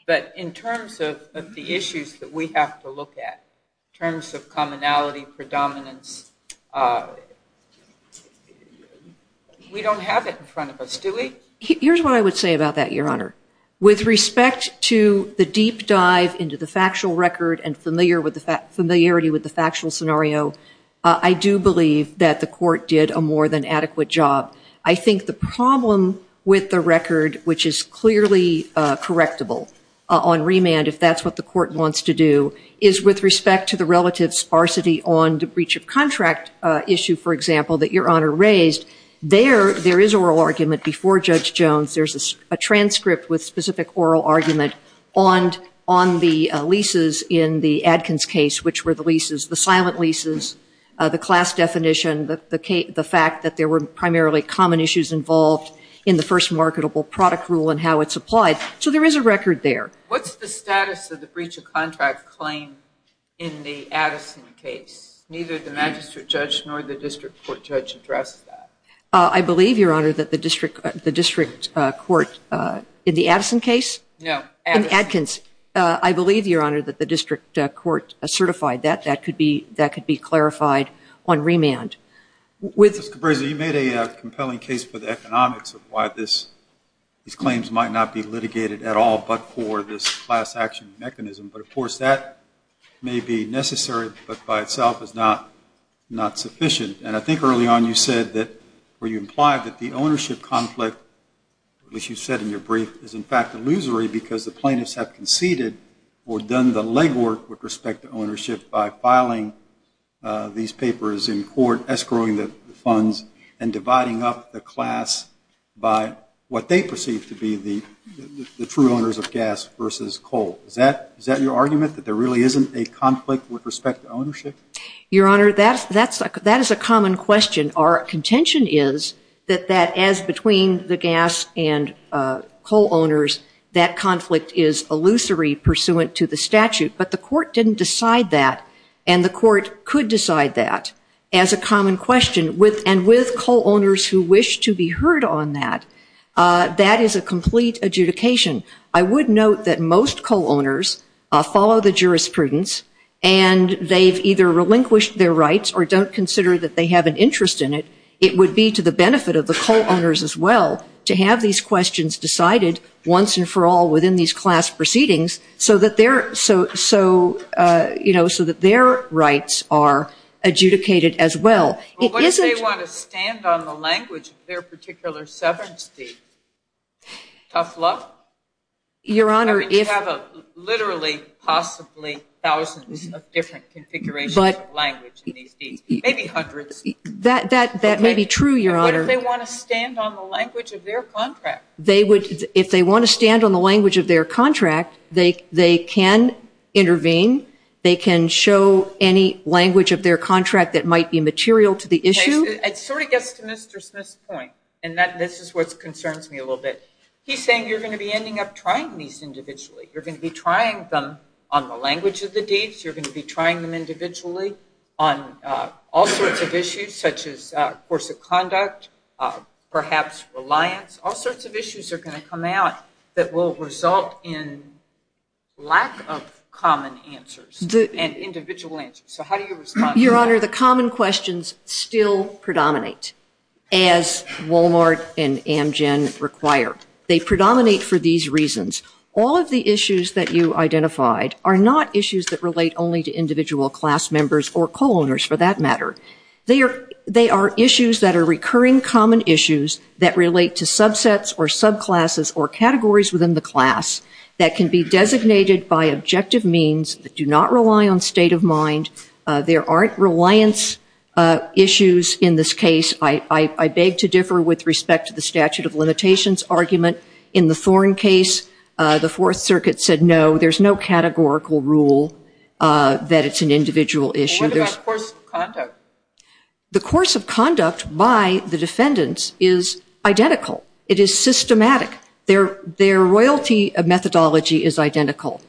But in terms of the issues that we have to look at, in terms of commonality, predominance, we don't have it in front of us, do we? Here's what I would say about that, Your Honor. With respect to the deep dive into the factual record and familiarity with the factual scenario, I do believe that the court did a more than adequate job. I think the problem with the record, which is clearly correctable on remand if that's what the court wants to do, is with respect to the relative sparsity on the breach of contract issue, for example, that Your Honor raised, there is a real argument before Judge Jones. There's a transcript with specific oral argument on the leases in the Adkins case, which were the leases, the silent leases, the class definition, the fact that there were primarily common issues involved in the first marketable product rule and how it's applied. So there is a record there. What's the status of the breach of contract claim in the Addison case? Neither the magistrate judge nor the district court judge addressed that. I believe, Your Honor, that the district court in the Addison case? Yeah. In Adkins. I believe, Your Honor, that the district court certified that. That could be clarified on remand. Ms. Cabrera, you made a compelling case for the economics of why these claims might not be litigated at all but for this class action mechanism. But, of course, that may be necessary but by itself is not sufficient. And I think early on you said that or you implied that the ownership conflict, which you said in your brief, is in fact illusory because the plaintiffs have conceded or done the legwork with respect to ownership by filing these papers in court, escrowing the funds and dividing up the class by what they perceive to be the true owners of gas versus coal. Is that your argument, that there really isn't a conflict with respect to ownership? Your Honor, that is a common question. Our contention is that as between the gas and coal owners, that conflict is illusory pursuant to the statute. But the court didn't decide that and the court could decide that as a common question. And with coal owners who wish to be heard on that, that is a complete adjudication. I would note that most coal owners follow the jurisprudence and they've either relinquished their rights or don't consider that they have an interest in it. It would be to the benefit of the coal owners as well to have these questions decided once and for all within these class proceedings so that their rights are adjudicated as well. But what if they want to stand on the language of their particular sovereignty? Tough luck? Your Honor, if... I mean, you have literally, possibly thousands of different configurations of language in these cases. Maybe hundreds. That may be true, Your Honor. What if they want to stand on the language of their contract? If they want to stand on the language of their contract, they can intervene. They can show any language of their contract that might be material to the issue. It sort of gets to Mr. Smith's point, and this is what concerns me a little bit. He's saying you're going to be ending up trying these individually. You're going to be trying them on the language of the deeds. You're going to be trying them individually on all sorts of issues such as course of conduct, perhaps reliance. All sorts of issues are going to come out that will result in lack of common answers and individual answers. So how do you respond to that? Your Honor, the common questions still predominate, as Walmart and Amgen require. They predominate for these reasons. All of the issues that you identified are not issues that relate only to individual class members or co-owners, for that matter. They are issues that are recurring common issues that relate to subsets or subclasses or categories within the class that can be designated by objective means that do not rely on state of mind. There aren't reliance issues in this case. I beg to differ with respect to the statute of limitations argument. In the Thorne case, the Fourth Circuit said no, there's no categorical rule that it's an individual issue. What about course of conduct? The course of conduct by the defendants is identical. It is systematic. Their royalty methodology is identical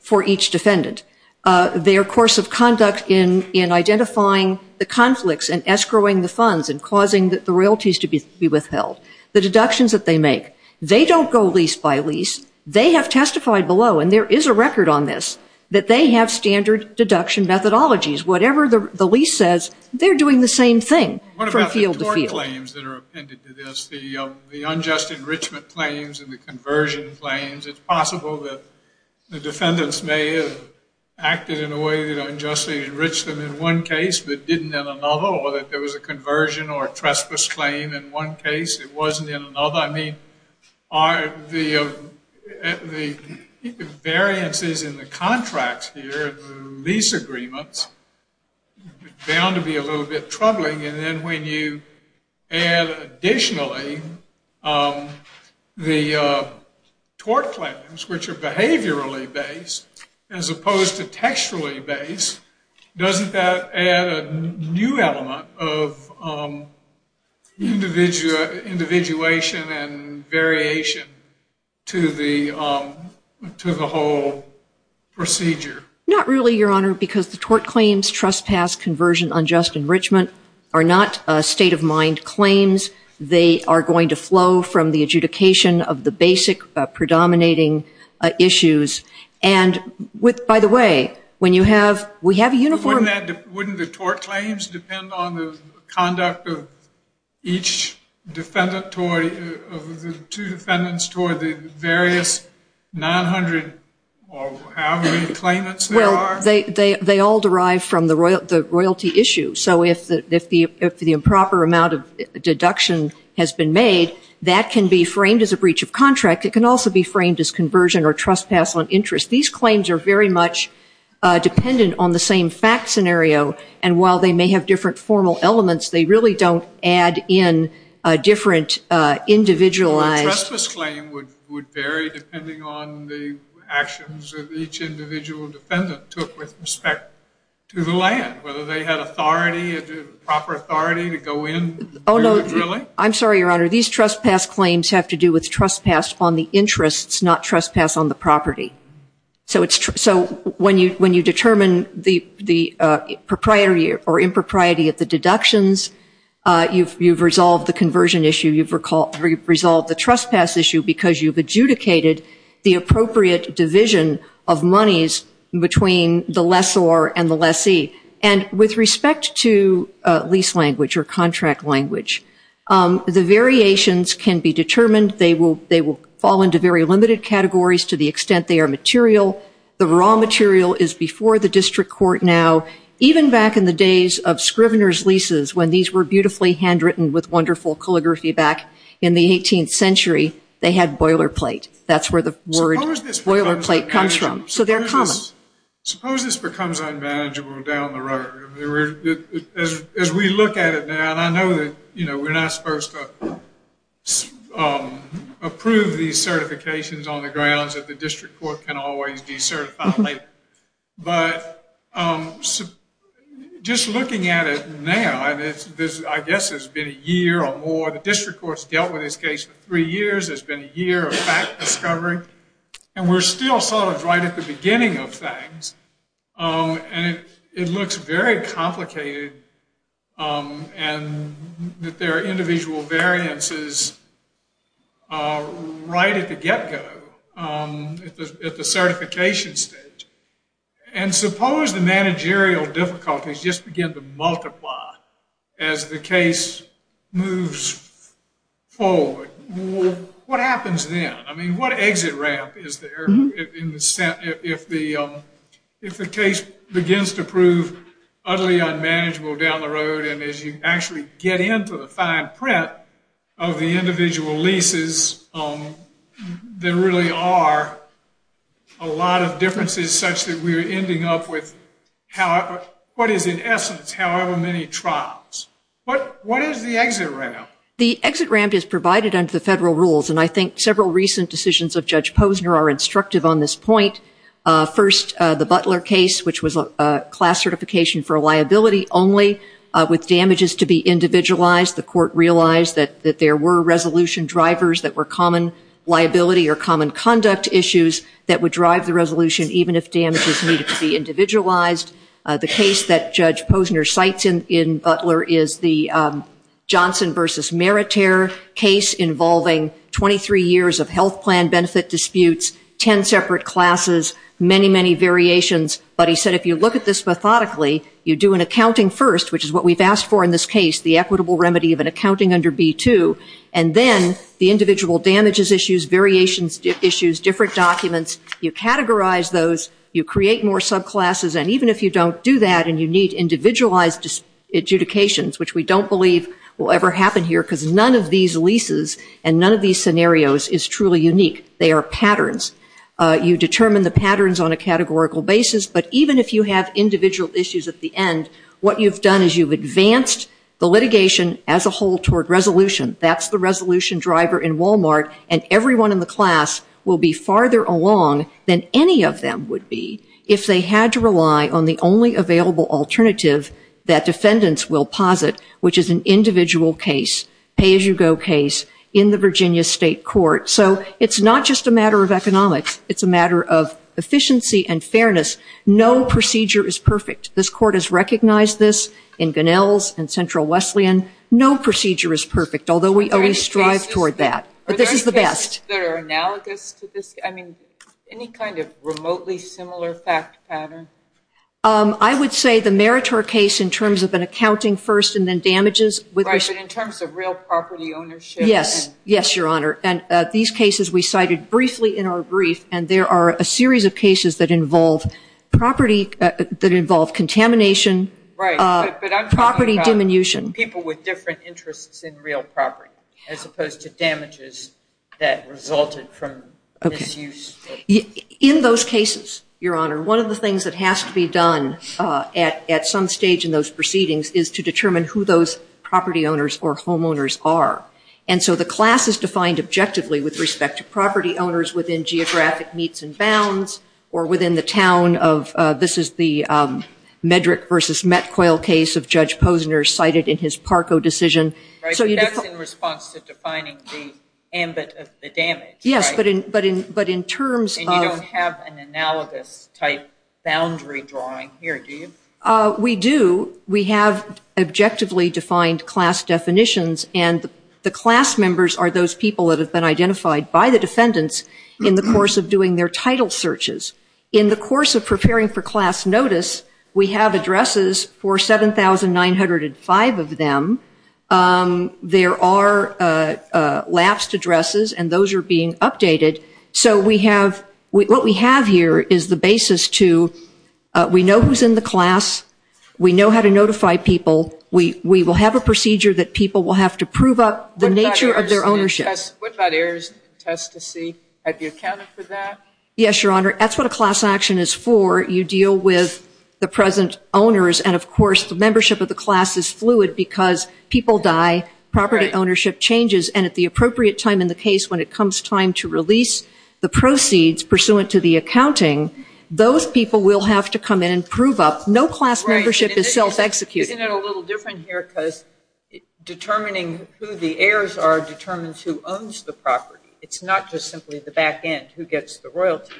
for each defendant. Their course of conduct in identifying the conflicts and escrowing the funds and causing the royalties to be withheld, the deductions that they make, they don't go lease by lease. They have testified below, and there is a record on this, that they have standard deduction methodologies. Whatever the lease says, they're doing the same thing from field to field. What about the Thorne claims that are appended to this, the unjust enrichment claims and the conversion claims? It's possible that the defendants may have acted in a way that unjustly enriched them in one case but didn't in another, or that there was a conversion or trespass claim in one case that wasn't in another. Well, I mean, the variances in the contracts here, the lease agreements, are bound to be a little bit troubling. And then when you add additionally the tort claims, which are behaviorally based as opposed to textually based, doesn't that add a new element of individuation and variation to the whole procedure? Not really, Your Honor, because the tort claims, trespass, conversion, unjust enrichment are not state-of-mind claims. They are going to flow from the adjudication of the basic predominating issues. By the way, we have a uniform- Wouldn't the tort claims depend on the conduct of each defendant, of the two defendants, toward the various 900 or however many claimants there are? Well, they all derive from the royalty issue. So if the improper amount of deduction has been made, that can be framed as a breach of contract. It can also be framed as conversion or trespass on interest. These claims are very much dependent on the same fact scenario. And while they may have different formal elements, they really don't add in different individualized- Well, the rest of the claim would vary depending on the actions that each individual defendant took with respect to the land, whether they had authority, proper authority to go in. I'm sorry, Your Honor. These trespass claims have to do with trespass on the interest, not trespass on the property. So when you determine the propriety or impropriety of the deductions, you've resolved the conversion issue. You've resolved the trespass issue because you've adjudicated the appropriate division of monies between the lessor and the lessee. And with respect to lease language or contract language, the variations can be determined. They will fall into very limited categories to the extent they are material. The raw material is before the district court now. Even back in the days of Scrivener's leases, when these were beautifully handwritten with wonderful calligraphy back in the 18th century, they had boilerplate. That's where the word boilerplate comes from. Suppose this becomes unmanageable down the road. As we look at it now, and I know that we're not supposed to approve these certifications on the grounds that the district court can always be certified later. But just looking at it now, I guess it's been a year or more. The district court's dealt with this case for three years. It's been a year of fact discovering. And we're still sort of right at the beginning of things. And it looks very complicated. And there are individual variances right at the get-go, at the certification stage. And suppose the managerial difficulties just begin to multiply as the case moves forward. What happens then? I mean, what exit ramp is there if the case begins to prove utterly unmanageable down the road, and as you actually get into the fine print of the individual leases, there really are a lot of differences such that we're ending up with what is, in essence, however many trials. What is the exit ramp? The exit ramp is provided under the federal rules. And I think several recent decisions of Judge Posner are instructive on this point. First, the Butler case, which was a class certification for liability only with damages to be individualized. The court realized that there were resolution drivers that were common liability or common conduct issues that would drive the resolution even if damages needed to be individualized. The case that Judge Posner cites in Butler is the Johnson v. Meritier case involving 23 years of health plan benefit disputes, 10 separate classes, many, many variations. But he said if you look at this methodically, you do an accounting first, which is what we've asked for in this case, the equitable remedy of an accounting under B-2, and then the individual damages issues, variations issues, different documents, you categorize those, you create more subclasses. And even if you don't do that and you need individualized adjudications, which we don't believe will ever happen here because none of these leases and none of these scenarios is truly unique. They are patterns. You determine the patterns on a categorical basis. But even if you have individual issues at the end, what you've done is you've advanced the litigation as a whole toward resolution. That's the resolution driver in Walmart. And everyone in the class will be farther along than any of them would be if they had to rely on the only available alternative that defendants will posit, which is an individual case, pay-as-you-go case in the Virginia state court. So it's not just a matter of economics. It's a matter of efficiency and fairness. No procedure is perfect. This court has recognized this in Gunnell's and Central Wesleyan. No procedure is perfect, although we always strive toward that. But this is the best. Are there any cases that are analogous to this? I mean, any kind of remotely similar fact pattern? I would say the Meritor case in terms of an accounting first and then damages. Right, but in terms of real property ownership? Yes. Yes, Your Honor. And these cases we cited briefly in our brief, and there are a series of cases that involve contamination, property diminution. People with different interests in real property as opposed to damages that resulted from misuse. In those cases, Your Honor, one of the things that has to be done at some stage in those proceedings is to determine who those property owners or homeowners are. And so the class is defined objectively with respect to property owners within geographic meets and bounds or within the town of, this is the Medrick versus Metcoil case of Judge Posner cited in his Parco decision. Right, so that's in response to defining the damage, right? Yes, but in terms of- And you don't have an analogous type boundary drawing here, do you? We do. We have objectively defined class definitions, and the class members are those people that have been identified by the defendants in the course of doing their title searches. In the course of preparing for class notice, we have addresses for 7,905 of them. There are last addresses, and those are being updated. So what we have here is the basis to, we know who's in the class. We know how to notify people. We will have a procedure that people will have to prove up the nature of their ownership. What about heirs? Test to see? Have you accounted for that? Yes, Your Honor, that's what a class action is for. You deal with the present owners, and of course the membership of the class is fluid because people die, property ownership changes, and at the appropriate time in the case when it comes time to release the proceeds pursuant to the accounting, those people will have to come in and prove up. No class membership is self-executed. Isn't it a little different here because determining who the heirs are determines who owns the property. It's not just simply the back end, who gets the royalty,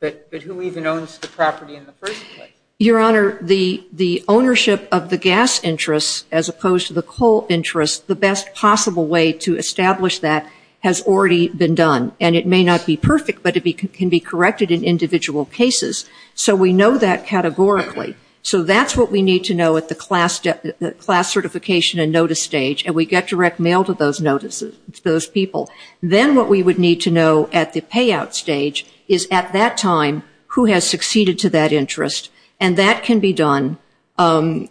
but who even owns the property in the first place. Your Honor, the ownership of the gas interest as opposed to the coal interest, the best possible way to establish that has already been done, and it may not be perfect, but it can be corrected in individual cases. So we know that categorically. So that's what we need to know at the class certification and notice stage, and we get direct mail to those notices, those people. Then what we would need to know at the payout stage is at that time who has succeeded to that interest, and that can be done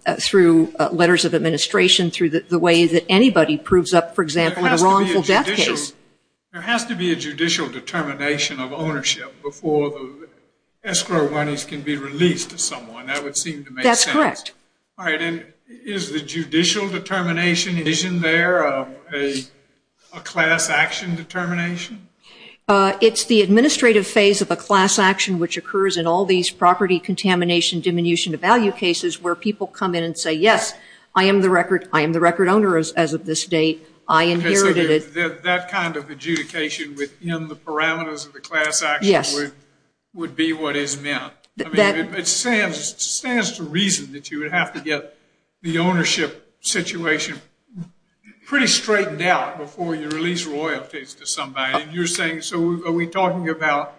through letters of administration, through the way that anybody proves up, for example, a wrongful death case. There has to be a judicial determination of ownership before the escrow monies can be released to someone. That would seem to make sense. That's correct. All right. Is the judicial determination there a class action determination? It's the administrative phase of a class action, which occurs in all these property contamination, diminution of value cases, where people come in and say, yes, I am the record owner as of this date. I inherited it. That kind of adjudication within the parameters of the class action would be what is meant. It stands to reason that you would have to get the ownership situation pretty straightened out before you release royalties to somebody. Are we talking about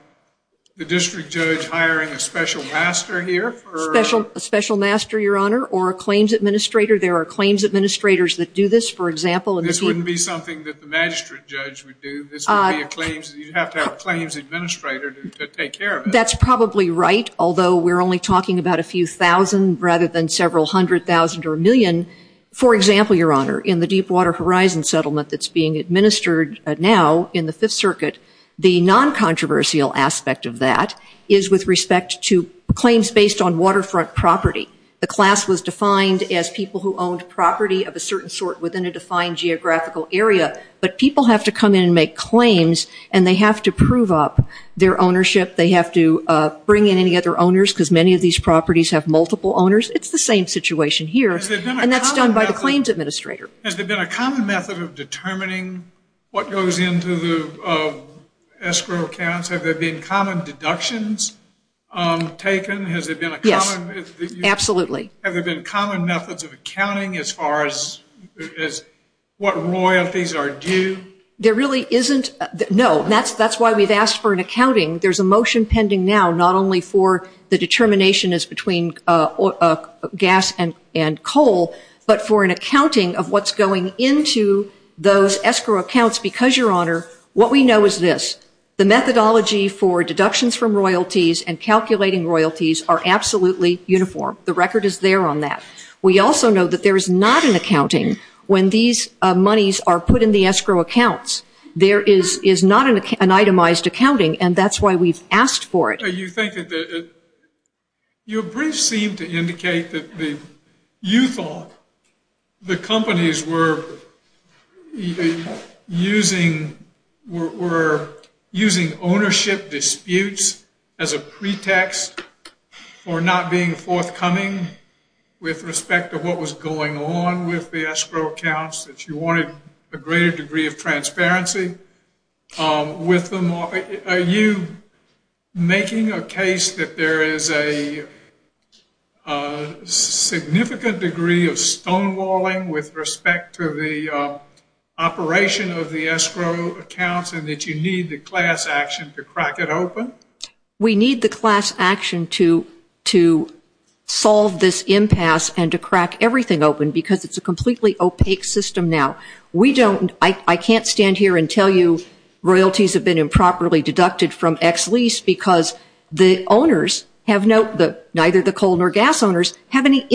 the district judge hiring a special master here? A special master, Your Honor, or a claims administrator. There are claims administrators that do this, for example. This wouldn't be something that the magistrate judge would do. You'd have to have a claims administrator to take care of it. That's probably right, although we're only talking about a few thousand rather than several hundred thousand or a million. For example, Your Honor, in the Deepwater Horizon settlement that's being administered now in the Fifth Circuit, the non-controversial aspect of that is with respect to claims based on waterfront property. The class was defined as people who owned property of a certain sort within a defined geographical area, but people have to come in and make claims, and they have to prove up their ownership. They have to bring in any other owners because many of these properties have multiple owners. It's the same situation here, and that's done by the claims administrator. Has there been a common method of determining what goes into the escrow accounts? Have there been common deductions taken? Yes, absolutely. Have there been common methods of accounting as far as what royalties are due? There really isn't. No, that's why we've asked for an accounting. There's a motion pending now not only for the determination as between gas and coal, but for an accounting of what's going into those escrow accounts because, Your Honor, what we know is this. The methodology for deductions from royalties and calculating royalties are absolutely uniform. The record is there on that. We also know that there is not an accounting when these monies are put in the escrow accounts. There is not an itemized accounting, and that's why we've asked for it. So you think that the – your briefs seem to indicate that you thought the companies were using ownership disputes as a pretext for not being forthcoming with respect to what was going on with the escrow accounts. If you wanted a greater degree of transparency with them, are you making a case that there is a significant degree of stonewalling with respect to the operation of the escrow accounts and that you need the class action to crack it open? We need the class action to solve this impasse and to crack everything open because it's a completely opaque system now. We don't – I can't stand here and tell you royalties have been improperly deducted from X lease because the owners have no – neither the coal nor gas owners have any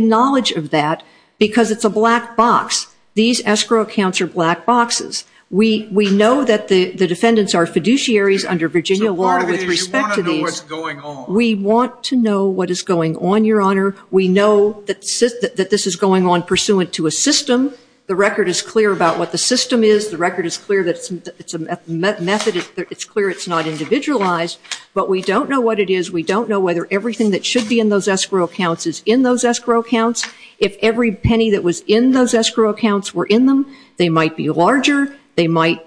knowledge of that because it's a black box. These escrow accounts are black boxes. We know that the defendants are fiduciaries under Virginia law with respect to these. You want to know what's going on. We want to know what is going on, Your Honor. We know that this is going on pursuant to a system. The record is clear about what the system is. The record is clear that it's a method. It's clear it's not individualized, but we don't know what it is. We don't know whether everything that should be in those escrow accounts is in those escrow accounts. If every penny that was in those escrow accounts were in them, they might be larger. They might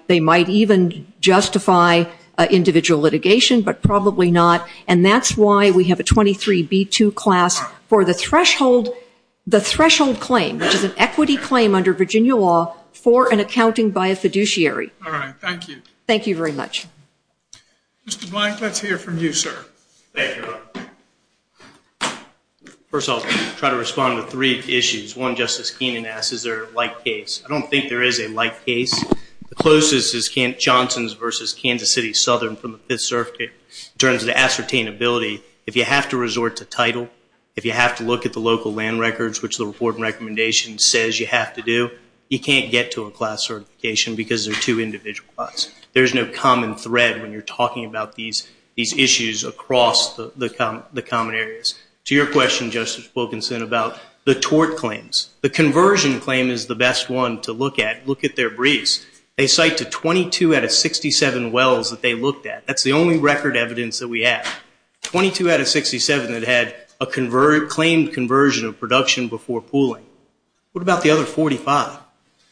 even justify individual litigation, but probably not, and that's why we have a 23B2 class for the threshold claim, which is an equity claim under Virginia law for an accounting by a fiduciary. All right. Thank you. Thank you very much. Mr. Blythe, let's hear from you, sir. Thank you, Your Honor. First, I'll try to respond to three issues. One, Justice Keenan asked, is there a light case? I don't think there is a light case. The closest is Johnson's versus Kansas City Southern from the Fifth Circuit. In terms of the ascertainability, if you have to resort to title, if you have to look at the local land records, which the reporting recommendation says you have to do, you can't get to a class certification because there are two individual classes. There is no common thread when you're talking about these issues across the common areas. To your question, Justice Wilkinson, about the tort claims, the conversion claim is the best one to look at. Look at their briefs. They cite the 22 out of 67 wells that they looked at. That's the only record evidence that we have. Twenty-two out of 67 that had a claimed conversion of production before pooling. What about the other 45?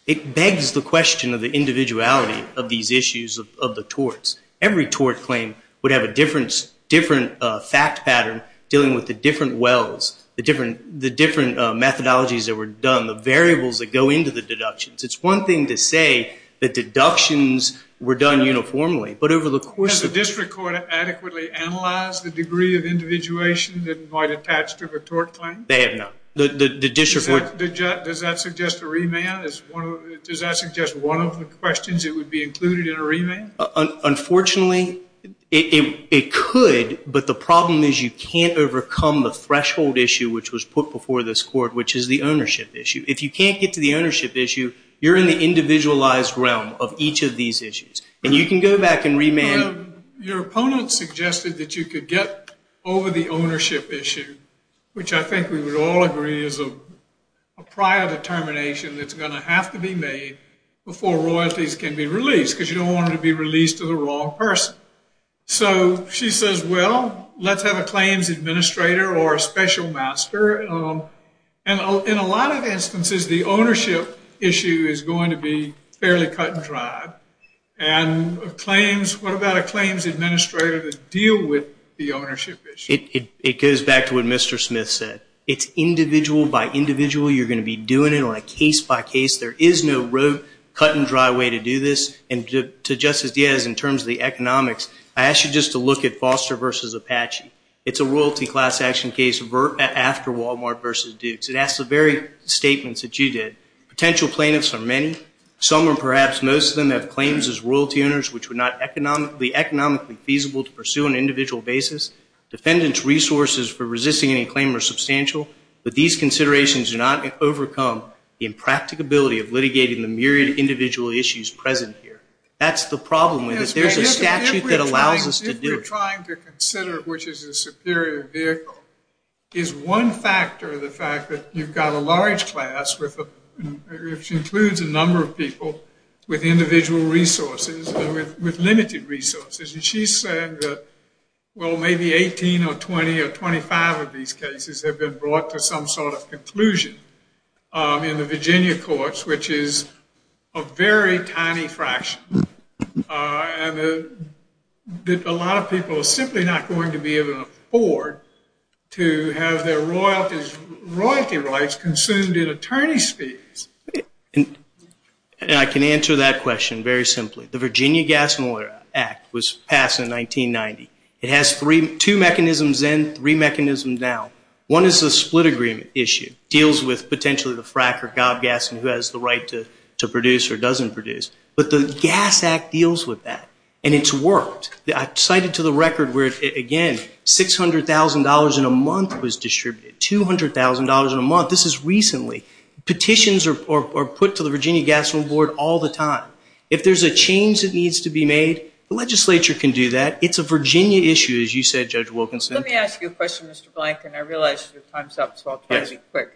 It begs the question of the individuality of these issues of the torts. Every tort claim would have a different fact pattern dealing with the different wells, the different methodologies that were done, the variables that go into the deductions. It's one thing to say that deductions were done uniformly, but over the course of- Has the district court adequately analyzed the degree of individuation that might attach to the tort claim? They have not. Does that suggest a remand? Does that suggest one of the questions that would be included in a remand? Unfortunately, it could, but the problem is you can't overcome the threshold issue, which was put before this court, which is the ownership issue. If you can't get to the ownership issue, you're in the individualized realm of each of these issues. And you can go back and remand. Your opponent suggested that you could get over the ownership issue, which I think we would all agree is a prior determination that's going to have to be made before royalties can be released because you don't want them to be released to the wrong person. So she says, well, let's have a claims administrator or a special master. In a lot of instances, the ownership issue is going to be fairly cut and dry. And what about a claims administrator that deals with the ownership issue? It goes back to what Mr. Smith said. It's individual by individual. You're going to be doing it on a case by case. There is no real cut and dry way to do this. And to Justice Diaz, in terms of the economics, I ask you just to look at Foster v. Apache. It's a royalty class action case after Walmart v. Dukes. It has the very statements that you did. Potential plaintiffs are many. Some or perhaps most of them have claims as royalty owners, which were not economically feasible to pursue on an individual basis. Defendants' resources for resisting any claim are substantial. But these considerations do not overcome the impracticability of litigating the myriad individual issues present here. That's the problem with it. There's a statute that allows us to do it. If you're trying to consider which is the superior vehicle, is one factor the fact that you've got a large class which includes a number of people with individual resources and with limited resources. And she said that, well, maybe 18 or 20 or 25 of these cases have been brought to some sort of conclusion in the Virginia courts, which is a very tiny fraction. And a lot of people are simply not going to be able to afford to have their royalty rights consumed in attorney's fees. And I can answer that question very simply. The Virginia Gas and Water Act was passed in 1990. It has two mechanisms then, three mechanisms now. One is the split agreement issue. It deals with potentially the frack or gout gas and who has the right to produce or doesn't produce. But the Gas Act deals with that. And it's worked. I cite it to the record where, again, $600,000 in a month was distributed, $200,000 in a month. This is recently. Petitions are put to the Virginia Gas Board all the time. If there's a change that needs to be made, the legislature can do that. It's a Virginia issue, as you said, Judge Wilkinson. Let me ask you a question, Mr. Blank, and I realize your time's up, so I'll be quick.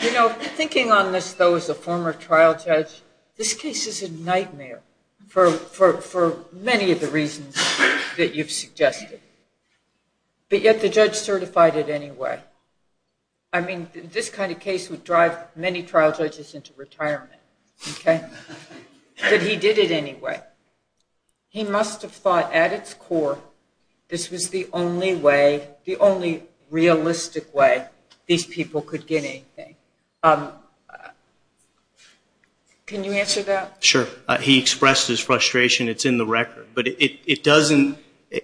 You know, thinking on this, though, as a former trial judge, this case is a nightmare for many of the reasons that you've suggested. But yet the judge certified it anyway. I mean, this kind of case would drive many trial judges into retirement. But he did it anyway. He must have thought at its core this was the only realistic way these people could get anything. Can you answer that? Sure. He expressed his frustration. It's in the record. But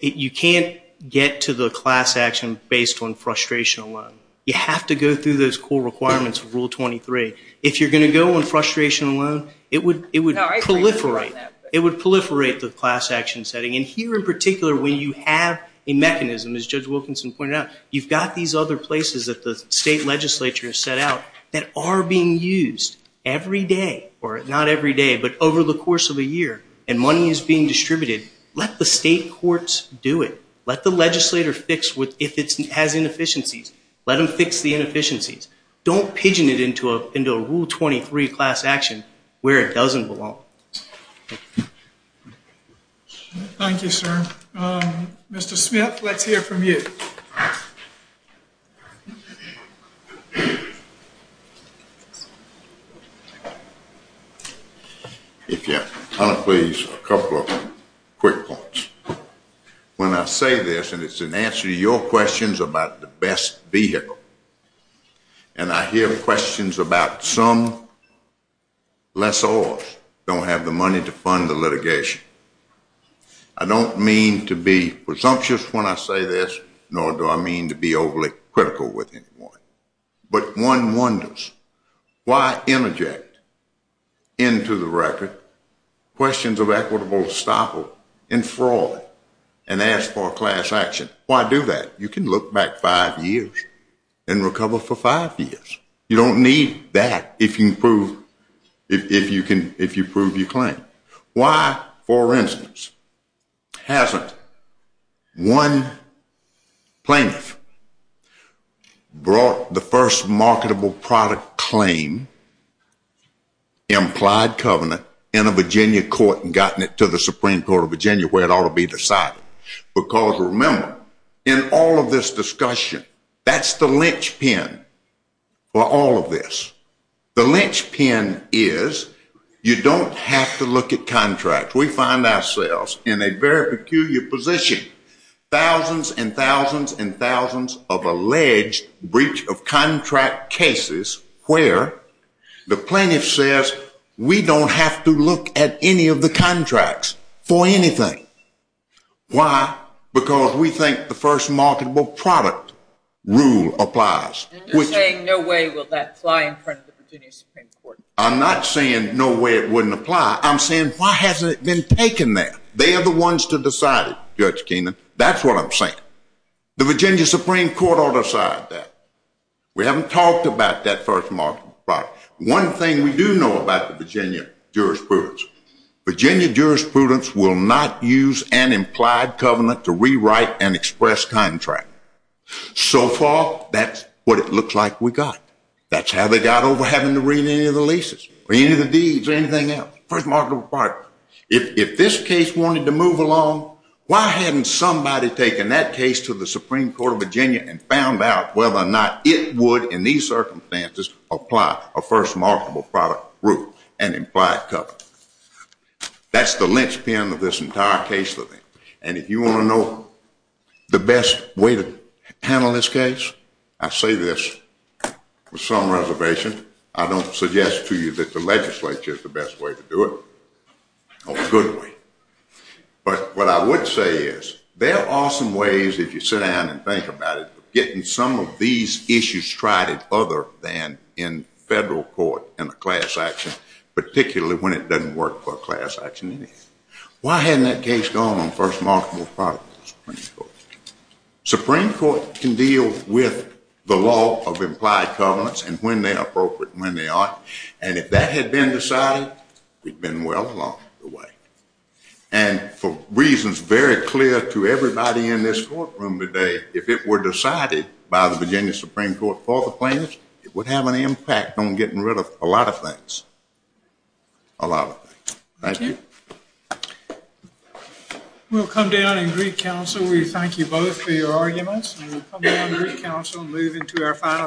you can't get to the class action based on frustration alone. You have to go through those core requirements of Rule 23. If you're going to go on frustration alone, it would proliferate. It would proliferate the class action setting. And here in particular, when you have a mechanism, as Judge Wilkinson pointed out, you've got these other places that the state legislature has set out that are being used every day, or not every day, but over the course of the year, and money is being distributed. Let the state courts do it. Let the legislature fix if it has inefficiencies. Let them fix the inefficiencies. Don't pigeon it into a Rule 23 class action where it doesn't belong. Thank you, sir. Mr. Smith, let's hear from you. If you'll allow me, please, a couple of quick points. When I say this, and it's in answer to your questions about the best vehicle, and I hear questions about some lessors don't have the money to fund the litigation, I don't mean to be presumptuous when I say this, nor do I mean to be overly critical with anyone. But one wonders, why interject into the record questions of equitable estoppel and fraud and ask for a class action? Why do that? You can look back five years and recover for five years. You don't need that if you prove your claim. Why, for instance, hasn't one plaintiff brought the first marketable product claim, implied covenant, in a Virginia court and gotten it to the Supreme Court of Virginia where it ought to be decided? Because remember, in all of this discussion, that's the linchpin for all of this. The linchpin is you don't have to look at contracts. We find ourselves in a very peculiar position, thousands and thousands and thousands of alleged breach of contract cases where the plaintiff says, we don't have to look at any of the contracts for anything. Why? Because we think the first marketable product rule applies. And you're saying no way will that fly in front of the Virginia Supreme Court. I'm not saying no way it wouldn't apply. I'm saying why hasn't it been taken there? They are the ones to decide, Judge Keenan. That's what I'm saying. The Virginia Supreme Court ought to decide that. We haven't talked about that first marketable product. One thing we do know about the Virginia jurisprudence, Virginia jurisprudence will not use an implied covenant to rewrite an express contract. So far, that's what it looks like we've got. That's how they got over having to renew the leases, renew the deeds or anything else. First marketable product. If this case wanted to move along, why haven't somebody taken that case to the Supreme Court of Virginia and found out whether or not it would, in these circumstances, apply a first marketable product rule and implied covenant? That's the linchpin of this entire case for me. And if you want to know the best way to handle this case, I say this with some reservation. I don't suggest to you that the legislature is the best way to do it or a good way. But what I would say is there are some ways that you sit down and think about it, getting some of these issues tried other than in federal court in a class action, particularly when it doesn't work for a class action. Why hadn't that case gone on first marketable product? Supreme Court can deal with the law of implied covenants and when they're appropriate and when they aren't. And if that had been decided, we'd have been well along the way. And for reasons very clear to everybody in this courtroom today, if it were decided by the Virginia Supreme Court for the plaintiffs, it would have an impact on getting rid of a lot of things. A lot of things. Thank you. We'll come down and greet counsel. We thank you both for your arguments. We'll come down and greet counsel and move into our final case.